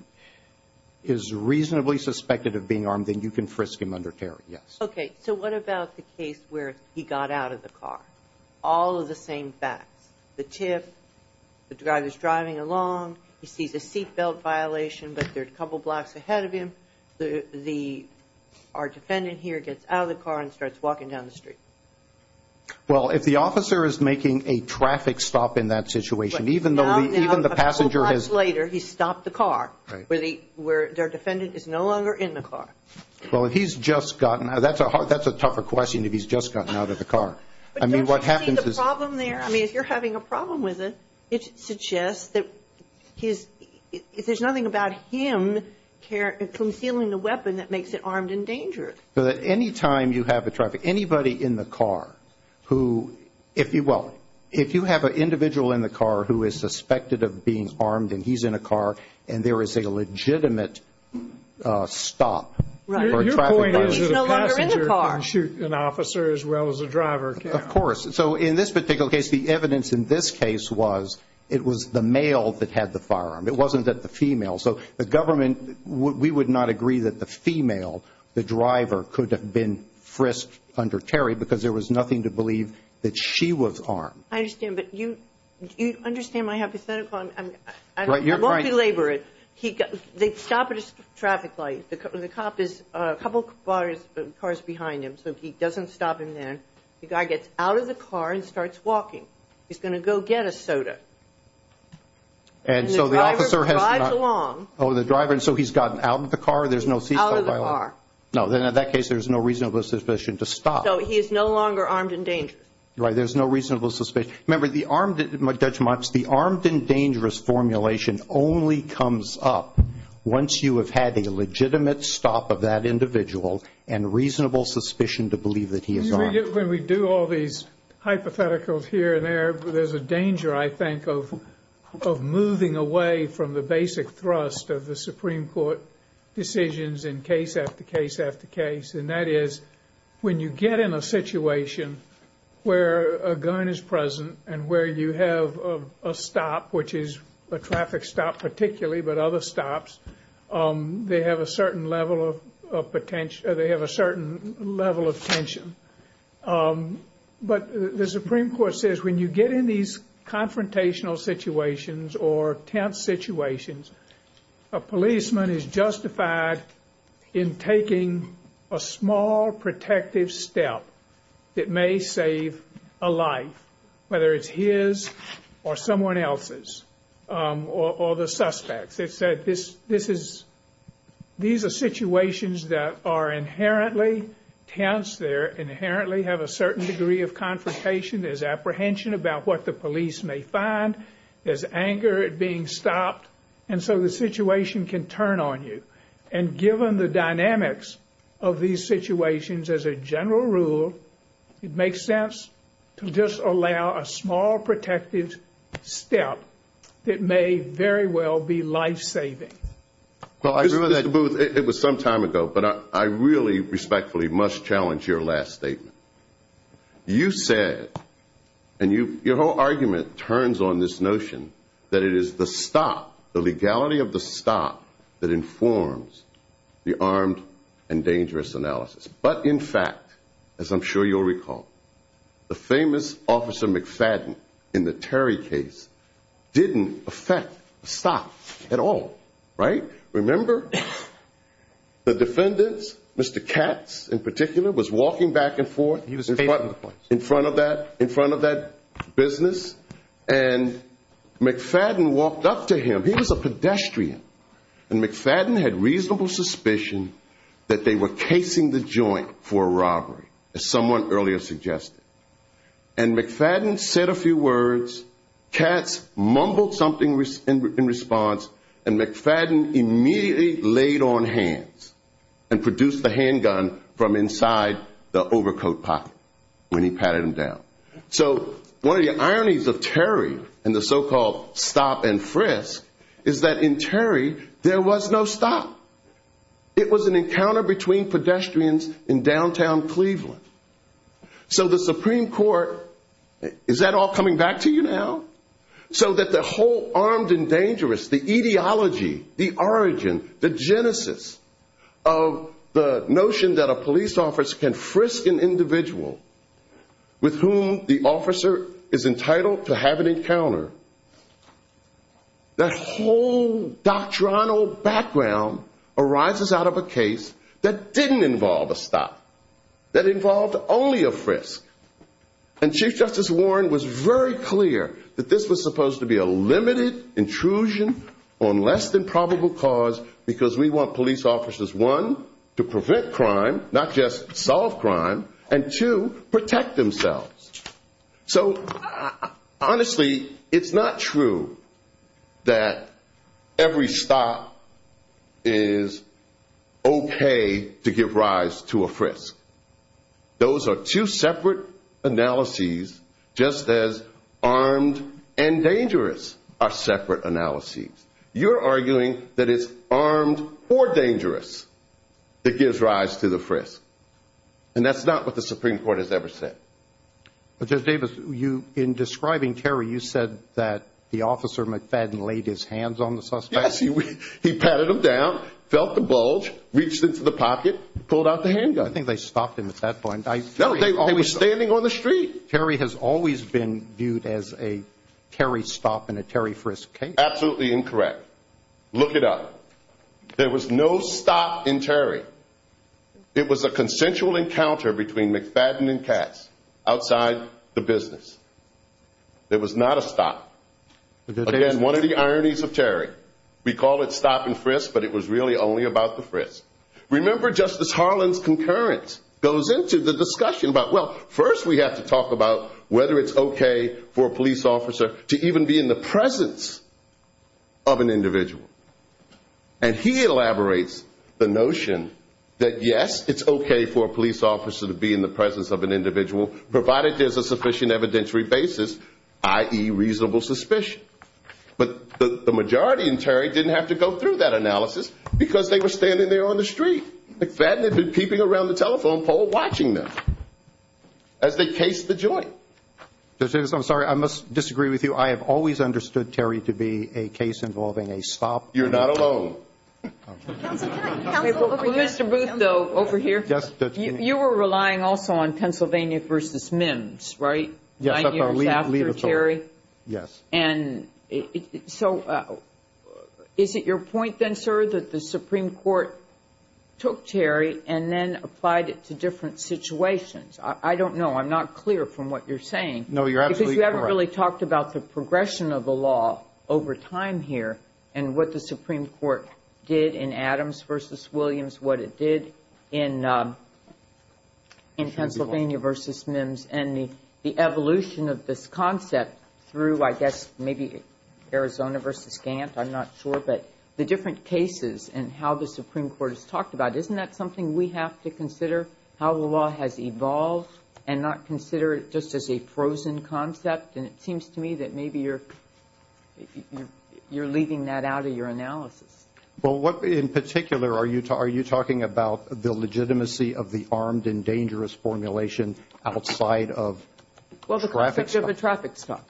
reasonably suspected of being armed, then you can frisk him under carry, yes. Okay, so what about the case where he got out of the car? All of the same facts. The tip, the driver's driving along, you see the seat belt violation, but there's a couple blocks ahead of him. Our defendant here gets out of the car and starts walking down the street. Well, if the officer is making a traffic stop in that situation, even though the passenger has – A couple blocks later, he stopped the car, where their defendant is no longer in the car. Well, if he's just gotten out – that's a tougher question if he's just gotten out of the car. I mean, what happens is – Do you see the problem there? I mean, if you're having a problem with it, it suggests that if there's nothing about him concealing the weapon, that makes it armed and dangerous. Anytime you have a traffic – anybody in the car who – well, if you have an individual in the car who is suspected of being armed and he's in a car and there is a legitimate stop – Your point is the passenger can shoot an officer as well as a driver. Of course. So in this particular case, the evidence in this case was it was the male that had the firearm. It wasn't that the female. So the government – we would not agree that the female, the driver, could have been frisked under Terry because there was nothing to believe that she was armed. I understand, but you – do you understand my hypothetical? I'm multi-laboring. They stop at a traffic light. The cop is a couple cars behind him, so he doesn't stop in there. The guy gets out of the car and starts walking. He's going to go get a soda. And the driver drives along. Oh, the driver, and so he's gotten out of the car. There's no ceasefire. Out of the car. No, then in that case, there's no reasonable suspicion to stop. So he is no longer armed and dangerous. Right, there's no reasonable suspicion. Remember, Judge Motz, the armed and dangerous formulation only comes up once you have had a legitimate stop of that individual and reasonable suspicion to believe that he is armed. When we do all these hypotheticals here and there, there's a danger, I think, of moving away from the basic thrust of the Supreme Court decisions in case after case after case, and that is when you get in a situation where a gun is present and where you have a stop, which is a traffic stop particularly, but other stops, they have a certain level of tension. But the Supreme Court says when you get in these confrontational situations or tense situations, a policeman is justified in taking a small protective step that may save a life, whether it's his or someone else's or the suspect's. It says these are situations that are inherently tense. They inherently have a certain degree of confrontation. There's apprehension about what the police may find. There's anger at being stopped, and so the situation can turn on you. And given the dynamics of these situations as a general rule, it makes sense to just allow a small protective step that may very well be life-saving. Well, I agree with Judge Booth. It was some time ago, but I really respectfully must challenge your last statement. You said, and your whole argument turns on this notion that it is the stop, the legality of the stop, that informs the armed and dangerous analysis. But in fact, as I'm sure you'll recall, the famous Officer McFadden in the Terry case didn't affect the stop at all, right? Remember, the defendants, Mr. Katz in particular, was walking back and forth in front of that business, and McFadden walked up to him. He was a pedestrian. And McFadden had reasonable suspicion that they were casing the joint for a robbery, as someone earlier suggested. And McFadden said a few words, Katz mumbled something in response, and McFadden immediately laid on hands and produced the handgun from inside the overcoat pocket when he patted him down. So one of the ironies of Terry and the so-called stop and frisk is that in Terry, there was no stop. It was an encounter between pedestrians in downtown Cleveland. So the Supreme Court, is that all coming back to you now? So that the whole armed and dangerous, the ideology, the origin, the genesis of the notion that a police officer can frisk an individual with whom the officer is entitled to have an encounter, that whole doctrinal background arises out of a case that didn't involve a stop, that involved only a frisk. And Chief Justice Warren was very clear that this was supposed to be a limited intrusion on less than probable cause because we want police officers, one, to prevent crime, not just solve crime, and two, protect themselves. So honestly, it's not true that every stop is okay to give rise to a frisk. Those are two separate analyses just as armed and dangerous are separate analyses. You're arguing that it's armed or dangerous that gives rise to the frisk, and that's not what the Supreme Court has ever said. Judge Davis, in describing Terry, you said that the officer, McFadden, laid his hands on the suspect. Yes, he patted him down, felt the bulge, reached into the pocket, pulled out the handgun. I think they stopped him at that point. No, they were standing on the street. Terry has always been viewed as a Terry stop and a Terry frisk case. Absolutely incorrect. Look it up. There was no stop in Terry. It was a consensual encounter between McFadden and Katz outside the business. There was not a stop. Again, one of the ironies of Terry, we call it stop and frisk, but it was really only about the frisk. Remember Justice Harlan's concurrence goes into the discussion about, well, first we have to talk about whether it's okay for a police officer to even be in the presence of an individual. And he elaborates the notion that, yes, it's okay for a police officer to be in the presence of an individual, provided there's a sufficient evidentiary basis, i.e., reasonable suspicion. Because they were standing there on the street. McFadden had been peeping around the telephone pole watching them as they cased the joint. Justice, I'm sorry. I must disagree with you. I have always understood Terry to be a case involving a stop. You're not alone. Mr. Booth, though, over here. You were relying also on Pennsylvania v. MIMS, right? Yes, that's right. Your chapter, Terry? Yes. So is it your point then, sir, that the Supreme Court took Terry and then applied it to different situations? I don't know. I'm not clear from what you're saying. No, you're absolutely correct. Because you haven't really talked about the progression of the law over time here and what the Supreme Court did in Adams v. Williams, what it did in Pennsylvania v. MIMS, and the evolution of this concept through, I guess, maybe Arizona v. Gantt. I'm not sure. But the different cases and how the Supreme Court has talked about it, isn't that something we have to consider how the law has evolved and not consider it just as a frozen concept? And it seems to me that maybe you're leaving that out of your analysis. Well, in particular, are you talking about the legitimacy of the armed and dangerous formulation outside of traffic stops?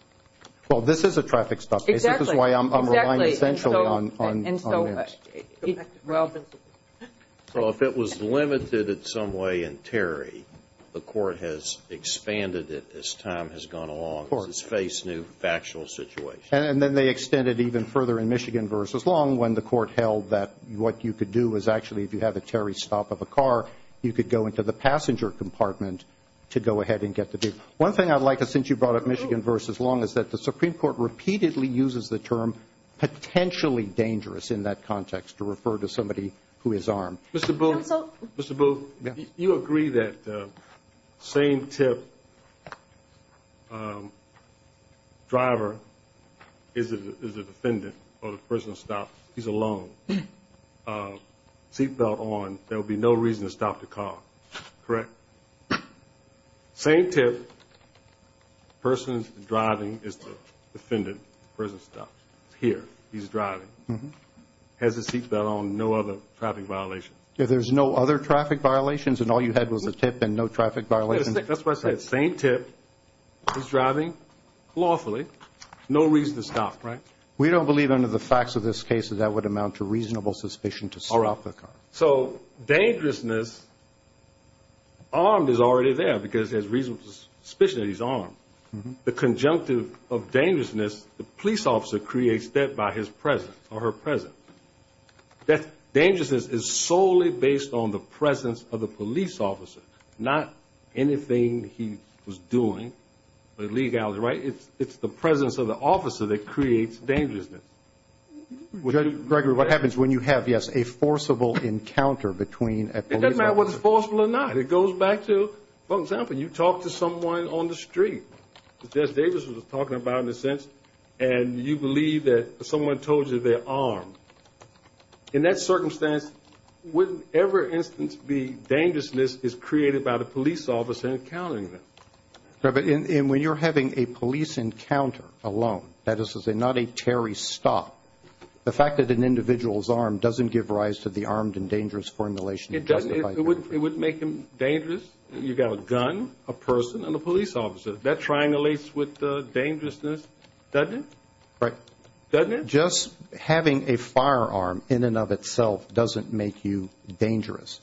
Well, this is a traffic stop. Exactly. This is why I'm relying centrally on MIMS. Well, if it was limited in some way in Terry, the Court has expanded it as time has gone along, as it's faced new factual situations. And then they extended it even further in Michigan v. Long when the Court held that what you could do is actually, if you have a Terry stop of a car, you could go into the passenger compartment to go ahead and get the deal. One thing I'd like to, since you brought up Michigan v. Long, is that the Supreme Court repeatedly uses the term potentially dangerous in that context to refer to somebody who is armed. Mr. Booth, Mr. Booth, do you agree that the same-tip driver is the defendant or the person stopped? He's alone. Seat belt on. There would be no reason to stop the car. Correct? Same-tip person driving is the defendant or the person stopped. He's here. He's driving. He has his seat belt on. No other traffic violations. There's no other traffic violations, and all you had was a tip and no traffic violations? That's what I said. Same-tip. He's driving. Lawfully. No reason to stop. Right? We don't believe under the facts of this case that that would amount to reasonable suspicion to stop the car. All right. So, dangerousness, armed is already there because there's reasonable suspicion that he's armed. The conjunctive of dangerousness, the police officer creates that by his presence or her presence. That dangerousness is solely based on the presence of the police officer, not anything he was doing. But Lee Gallagher, right? It's the presence of the officer that creates dangerousness. Gregory, what happens when you have, yes, a forcible encounter between a police officer? It doesn't matter whether it's forcible or not. It goes back to, for example, you talk to someone on the street. Jess Davis was talking about in a sense, and you believe that someone told you they're armed. In that circumstance, wouldn't every instance be dangerousness is created by the police officer encountering them? And when you're having a police encounter alone, that is to say not a Terry stop, the fact that an individual is armed doesn't give rise to the armed and dangerous formulation. It doesn't. It would make them dangerous. You've got a gun, a person, and a police officer. That triangulates with the dangerousness, doesn't it? Right. Doesn't it? Just having a firearm in and of itself doesn't make you dangerous.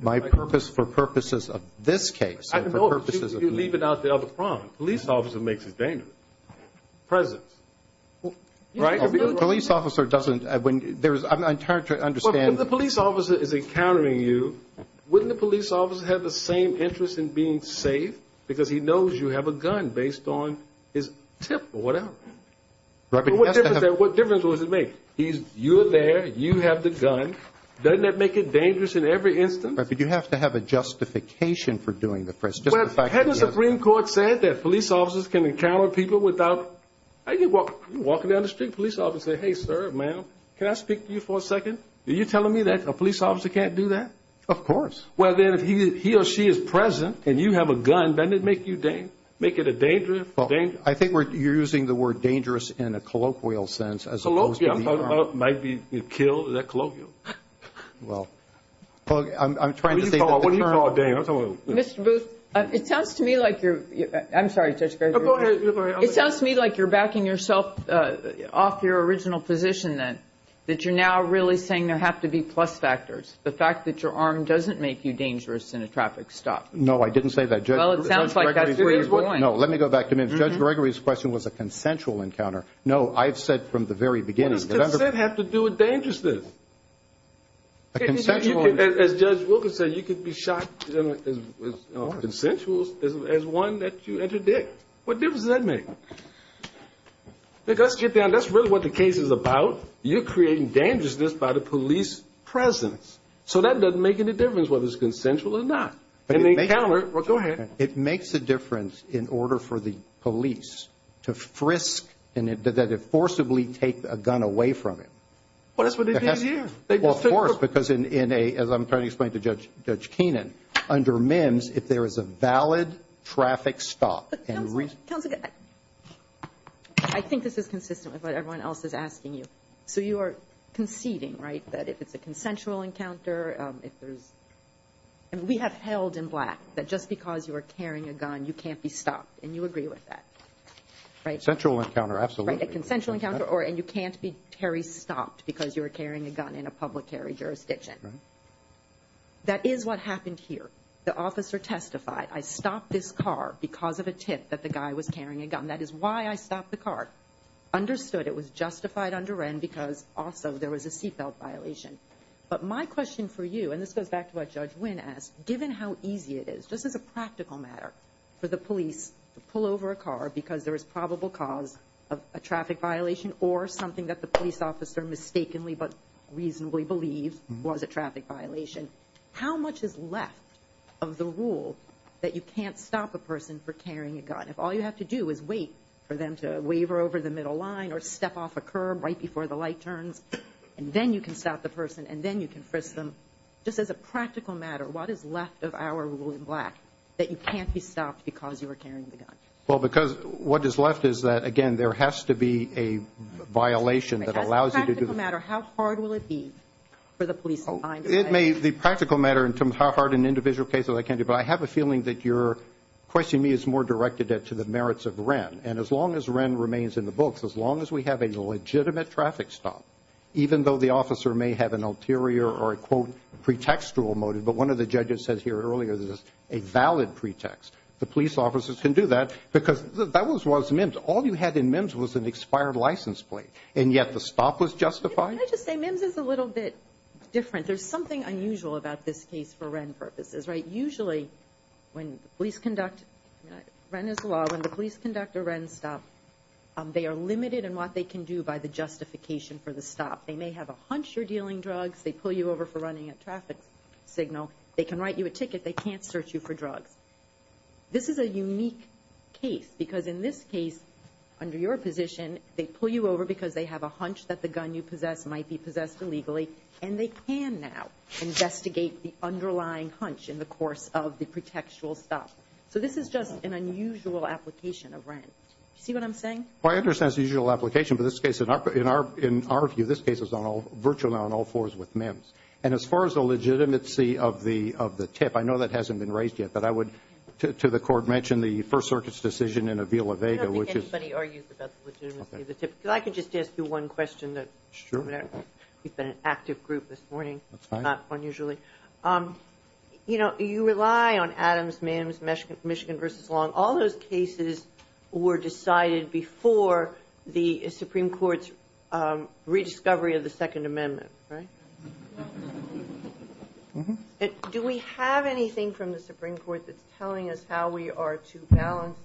My purpose for purposes of this case. I know it's even out there on the front. A police officer makes you dangerous. Presence. Right? A police officer doesn't. I'm trying to understand. If the police officer is encountering you, wouldn't the police officer have the same interest in being safe? Because he knows you have a gun based on his tip or whatever. What difference does it make? You're there. You have the gun. Doesn't that make it dangerous in every instance? But you have to have a justification for doing the first. Had the Supreme Court said that police officers can encounter people without walking down the street, police officer, hey, sir, ma'am, can I speak to you for a second? Are you telling me that a police officer can't do that? Of course. Well, then, if he or she is present and you have a gun, doesn't it make you dangerous? I think you're using the word dangerous in a colloquial sense. Might be killed. Is that colloquial? Well, I'm trying to think. What do you call dangerous? Mr. Booth, it sounds to me like you're backing yourself off your original position that you're now really saying there have to be plus factors. The fact that your arm doesn't make you dangerous in a traffic stop. No, I didn't say that. Well, it sounds like that's where you're going. No, let me go back. Judge Gregory's question was a consensual encounter. No, I've said from the very beginning. What does that have to do with dangerousness? A consensual encounter. As Judge Wilkins said, you could be shot consensual as one that you entered there. What difference does that make? That's really what the case is about. You're creating dangerousness by the police presence. So that doesn't make any difference whether it's consensual or not. Go ahead. It makes a difference in order for the police to frisk and that they forcibly take a gun away from it. That's what they did here. Of course, because as I'm trying to explain to Judge Keenan, under MIMS if there is a valid traffic stop. I think this is consistent with what everyone else is asking you. So you are conceding, right, that if it's a consensual encounter. We have held in black that just because you are carrying a gun, you can't be stopped. And you agree with that, right? A consensual encounter, absolutely. A consensual encounter and you can't be stopped because you're carrying a gun in a public jurisdiction. That is what happened here. The officer testified, I stopped this car because of a tip that the guy was carrying a gun. That is why I stopped the car. Understood it was justified under N because also there was a seatbelt violation. But my question for you, and this goes back to what Judge Wynn asked, given how easy it is, just as a practical matter, for the police to pull over a car because there is probable cause of a traffic violation or something that the police officer mistakenly but reasonably believed was a traffic violation, how much is left of the rule that you can't stop a person for carrying a gun? If all you have to do is wait for them to waver over the middle line or step off a curb right before the light turns, and then you can stop the person and then you can frisk them, just as a practical matter, what is left of our rule in black that you can't be stopped because you are carrying a gun? Well, because what is left is that, again, there has to be a violation that allows you to do this. As a practical matter, how hard will it be for the police to find it? It may be a practical matter in terms of how hard in an individual case it can be, but I have a feeling that your question to me is more directed to the merits of REN. And as long as REN remains in the book, as long as we have a legitimate traffic stop, even though the officer may have an ulterior or a, quote, pretextual motive, but one of the judges said here earlier, this is a valid pretext, the police officers can do that because that was MIMS. All you had in MIMS was an expired license plate, and yet the stop was justified? Can I just say, MIMS is a little bit different. There's something unusual about this case for REN purposes, right? Usually when police conduct, REN is the law, when the police conduct a REN stop, they are limited in what they can do by the justification for the stop. They may have a hunch you're dealing drugs, they pull you over for running a traffic signal, they can write you a ticket, they can't search you for drugs. This is a unique case because in this case, under your position, they pull you over because they have a hunch that the gun you possess might be possessed illegally, and they can now investigate the underlying hunch in the course of the pretextual stop. So this is just an unusual application of REN. Do you see what I'm saying? Well, I understand it's an unusual application, but in our view, this case is virtually on all fours with MIMS. And as far as the legitimacy of the tip, I know that hasn't been raised yet, but I would, to the court, mention the First Circuit's decision in Avila-Vega, which is... I don't think anybody argued about the legitimacy of the tip. If I could just ask you one question. Sure. We've been an active group this morning, not unusually. You know, you rely on Adams, MIMS, Michigan v. Long. All those cases were decided before the Supreme Court's rediscovery of the Second Amendment, right? Do we have anything from the Supreme Court that's telling us how we are to balance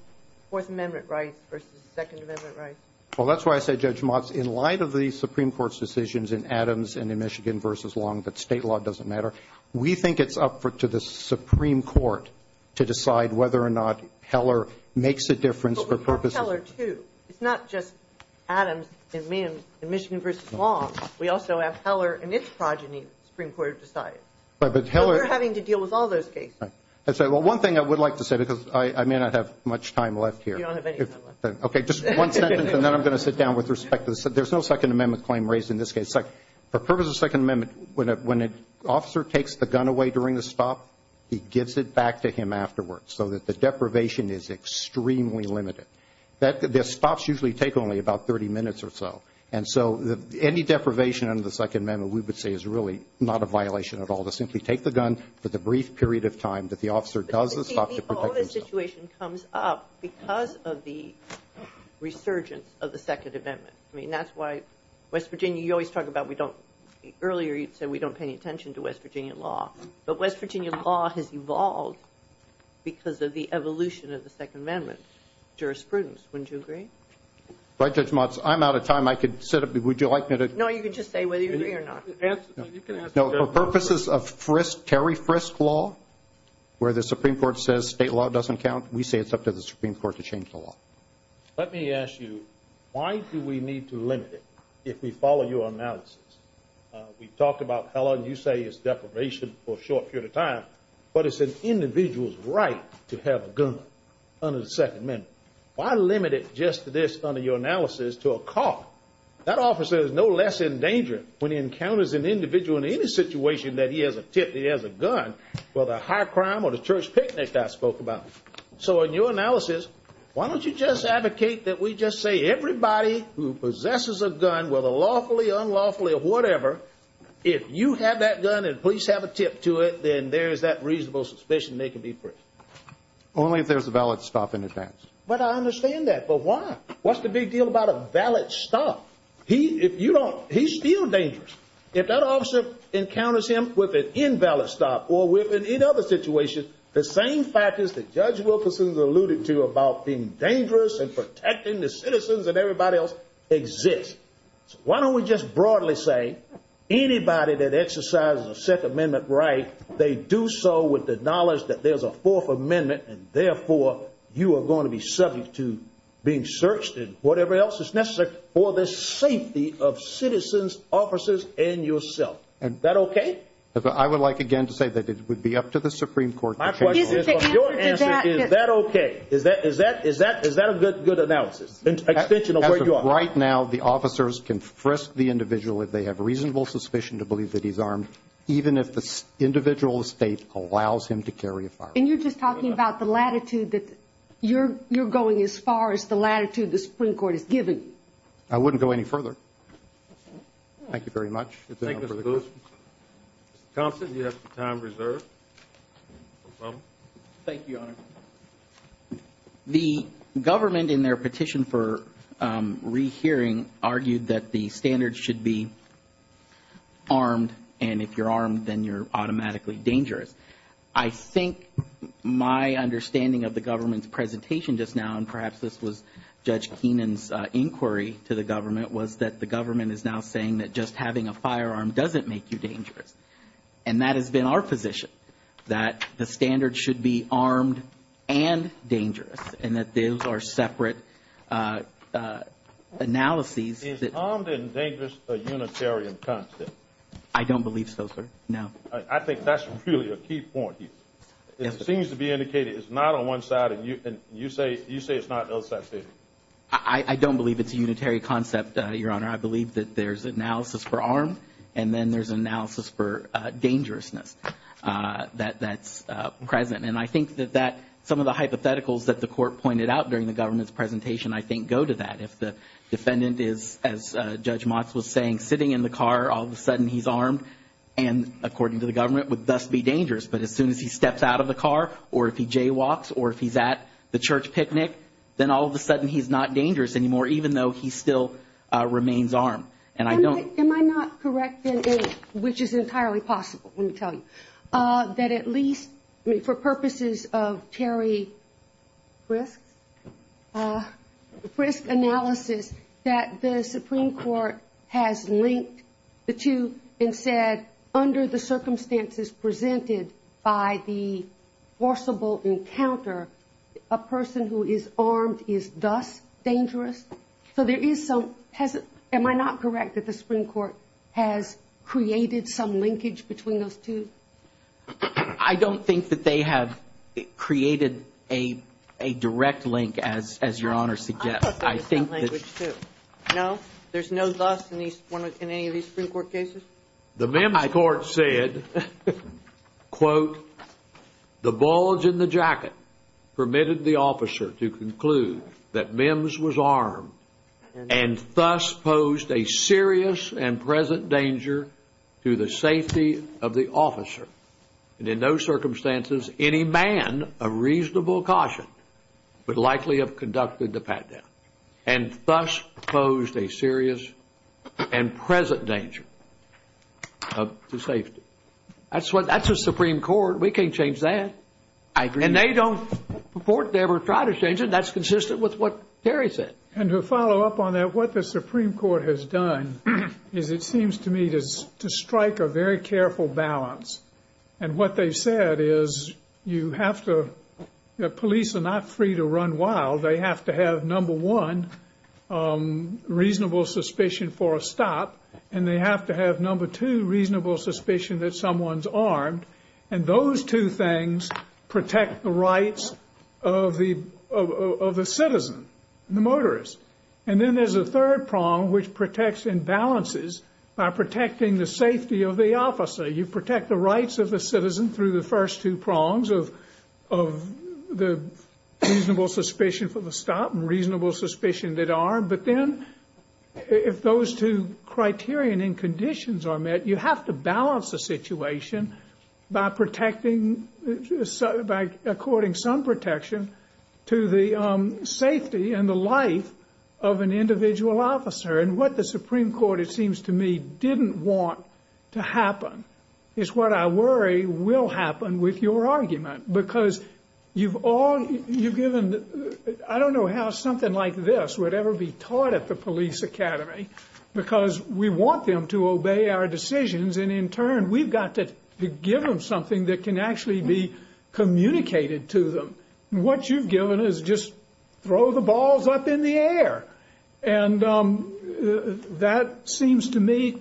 Fourth Amendment rights versus Second Amendment rights? Well, that's why I say, Judge Motz, in light of the Supreme Court's decisions in Adams and in Michigan v. Long, that state law doesn't matter, we think it's up to the Supreme Court to decide whether or not Heller makes a difference for purposes... But what about Heller, too? It's not just Adams and MIMS and Michigan v. Long. We also have Heller and its progeny the Supreme Court has decided. But Heller... We're having to deal with all those cases. Well, one thing I would like to say, because I may not have much time left here. We don't have any time left. Okay, just one sentence, and then I'm going to sit down with respect to this. There's no Second Amendment claim raised in this case. For purposes of Second Amendment, when an officer takes the gun away during a stop, he gives it back to him afterwards, so that the deprivation is extremely limited. The stops usually take only about 30 minutes or so. And so any deprivation under the Second Amendment, we would say is really not a violation at all to simply take the gun for the brief period of time that the officer does a stop to protect himself. The whole situation comes up because of the resurgence of the Second Amendment. I mean, that's why West Virginia... You always talk about we don't... Earlier you said we don't pay any attention to West Virginia law. But West Virginia law has evolved because of the evolution of the Second Amendment jurisprudence. Wouldn't you agree? Judge Motz, I'm out of time. I could sit up. Would you like me to... No, you can just say whether you agree or not. No, for purposes of Terry Frisk law, where the Supreme Court says state law doesn't count, we say it's up to the Supreme Court to change the law. Let me ask you, why do we need to limit it if we follow your analysis? We talked about how long you say is deprivation for a short period of time, but it's an individual's right to have a gun under the Second Amendment. Why limit it just to this under your analysis to a cop? That officer is no less endangering when he encounters an individual in any situation that he has a tip, he has a gun, whether a high crime or a church picnic I spoke about. So in your analysis, why don't you just advocate that we just say everybody who possesses a gun, whether lawfully, unlawfully, or whatever, if you have that gun and police have a tip to it, then there's that reasonable suspicion they could be free. Only if there's a valid stop in advance. But I understand that, but why? What's the big deal about a valid stop? He's still dangerous. If that officer encounters him with an invalid stop or with any other situation, the same factors that Judge Wilkerson alluded to about being dangerous and protecting the citizens and everybody else exist. Why don't we just broadly say anybody that exercises a Second Amendment right, they do so with the knowledge that there's a Fourth Amendment and therefore you are going to be subject to being searched and whatever else is necessary for the safety of citizens, officers, and yourself. Is that okay? I would like again to say that it would be up to the Supreme Court. Is that okay? Is that a good analysis? As of right now, the officers can thrust the individual if they have reasonable suspicion to believe that he's armed, even if the individual's state allows him to carry a firearm. And you're just talking about the latitude that you're going as far as the latitude the Supreme Court has given you. I wouldn't go any further. Thank you very much. Counsel, you have some time reserved. No problem. Thank you, Your Honor. The government in their petition for rehearing argued that the standards should be armed and if you're armed then you're automatically dangerous. I think my understanding of the government's presentation just now, and perhaps this was Judge Keenan's inquiry to the government, was that the government is now saying that just having a firearm doesn't make you dangerous. And that has been our position, that the standards should be armed and dangerous, and that those are separate analyses. Is armed and dangerous a unitarian concept? I don't believe so, sir. No. I think that's really a key point here. It seems to be indicated it's not on one side and you say it's not on the other side. I don't believe it's a unitary concept, Your Honor. I believe that there's analysis for armed and then there's analysis for dangerousness that's present. And I think that some of the hypotheticals that the court pointed out during the government's presentation, I think, go to that. If the defendant is, as Judge Motz was saying, sitting in the car, all of a sudden he's armed, and according to the government, would thus be dangerous. But as soon as he steps out of the car or if he jaywalks or if he's at the church picnic, then all of a sudden he's not dangerous anymore even though he still remains armed. And I don't... Am I not correct in it, which is entirely possible, let me tell you, that at least for purposes of Terry Frist's analysis, that the Supreme Court has linked the two and said under the circumstances presented by the forcible encounter, a person who is armed is thus dangerous? So there is some... Am I not correct that the Supreme Court has created some linkage between those two? I don't think that they have created a direct link, as Your Honor suggests. I don't think there's some linkage, too. No? There's no thus in any of these Supreme Court cases? The mem I court said, quote, the bulge in the jacket permitted the officer to conclude that Mims was armed and thus posed a serious and present danger to the safety of the officer. And in those circumstances, any man of reasonable caution would likely have conducted the pat-down and thus posed a serious and present danger to safety. That's what... That's the Supreme Court. We can't change that. I agree. And they don't report to ever try to change it. That's consistent with what Terry said. And to follow up on that, what the Supreme Court has done is it seems to me to strike a very careful balance. And what they said is you have to... The police are not free to run wild. They have to have, number one, reasonable suspicion for a stop, and they have to have, number two, reasonable suspicion that someone's armed. And those two things protect the rights of the citizen, the motorist. And then there's a third prong which protects and balances by protecting the safety of the officer. You protect the rights of the citizen through the first two prongs in terms of the reasonable suspicion for the stop and reasonable suspicion that they're armed. But then if those two criteria and conditions are met, you have to balance the situation by protecting... by according some protection to the safety and the life of an individual officer. And what the Supreme Court, it seems to me, didn't want to happen is what I worry will happen with your argument because you've all...you've given... I don't know how something like this would ever be taught at the police academy because we want them to obey our decisions and, in turn, we've got to give them something that can actually be communicated to them. What you've given is just throw the balls up in the air. And that seems to me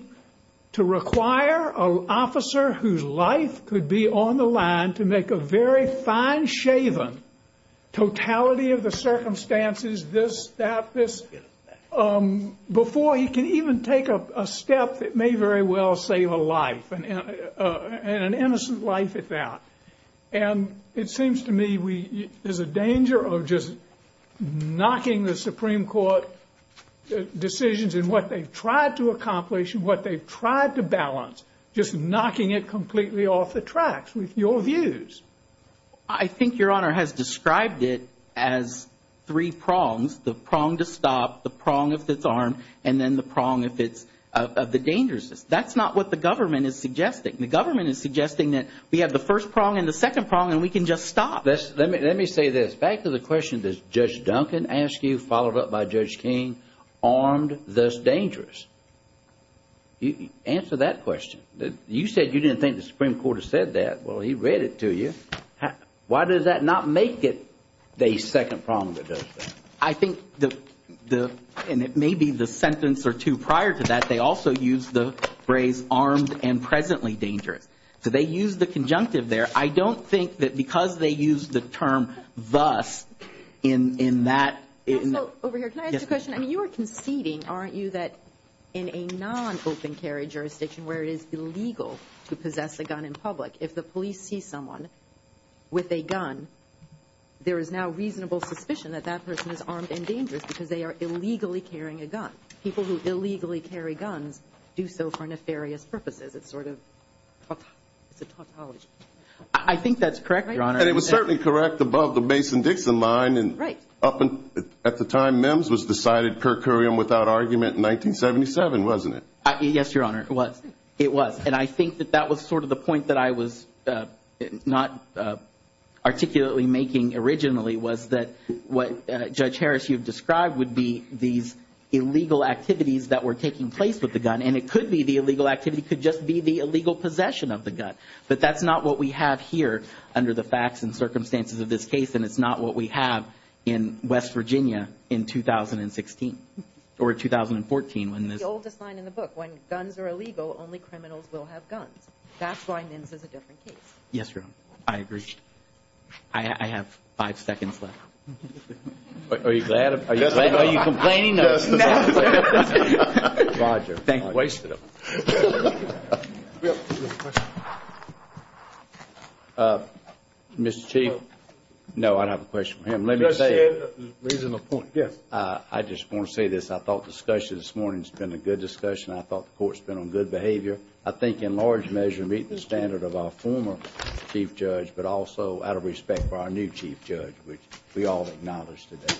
to require an officer whose life could be on the line to make a very fine-shaven totality of the circumstances, this, that, this, before he can even take a step that may very well save a life and an innocent life at that. And it seems to me we... there's a danger of just knocking the Supreme Court decisions and what they've tried to accomplish and what they've tried to balance just knocking it completely off the tracks with your views. I think Your Honor has described it as three prongs, the prong to stop, the prong of disarm, and then the prong of the dangerousness. That's not what the government is suggesting. The government is suggesting that we have the first prong and the second prong and we can just stop. Let me say this. Back to the question that Judge Duncan asked you, followed up by Judge King, armed, thus dangerous. Answer that question. You said you didn't think the Supreme Court had said that. Well, he read it to you. Why does that not make it the second prong that does that? I think the... and it may be the sentence or two prior to that, but they also used the phrase armed and presently dangerous. They used the conjunctive there. I don't think that because they used the term thus in that... Over here, can I ask a question? You are conceding, aren't you, that in a non-open carry jurisdiction where it is illegal to possess a gun in public, if the police see someone with a gun, there is now reasonable suspicion that that person is armed and dangerous because they are illegally carrying a gun. People who illegally carry guns do so for nefarious purposes. It's sort of the topology. I think that's correct, Your Honor. And it was certainly correct above the Mason-Dixon line. Right. At the time, MIMS was decided per curiam without argument in 1977, wasn't it? Yes, Your Honor, it was. And I think that that was sort of the point that I was not articulately making originally was that what Judge Harris, you've described, would be these illegal activities that were taking place with the gun, and it could be the illegal activity could just be the illegal possession of the gun. But that's not what we have here under the facts and circumstances of this case, and it's not what we have in West Virginia in 2016 or 2014 when MIMS... The oldest line in the book, when guns are illegal, only criminals will have guns. That's why MIMS is a different case. Yes, Your Honor. I agree. I have five seconds left. Are you glad? Are you complaining? No. Roger. Thank you. Mr. Chief? No, I don't have a question for him. Let me say it. I just want to say this. I thought the discussion this morning has been a good discussion. I thought the court has been on good behavior. I think in large measure meeting the standard of our former chief judge, but also out of respect for our new chief judge, which we all acknowledge today.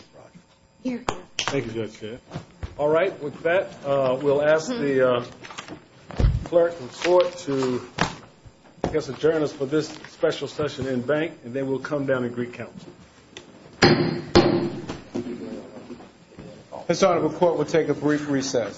Thank you, Judge Harris. All right. With that, we'll ask the clerk and court to, I guess, adjourn us for this special session in bank, and then we'll come down and recount. Mr. Honor, the court will take a brief recess. Thank you.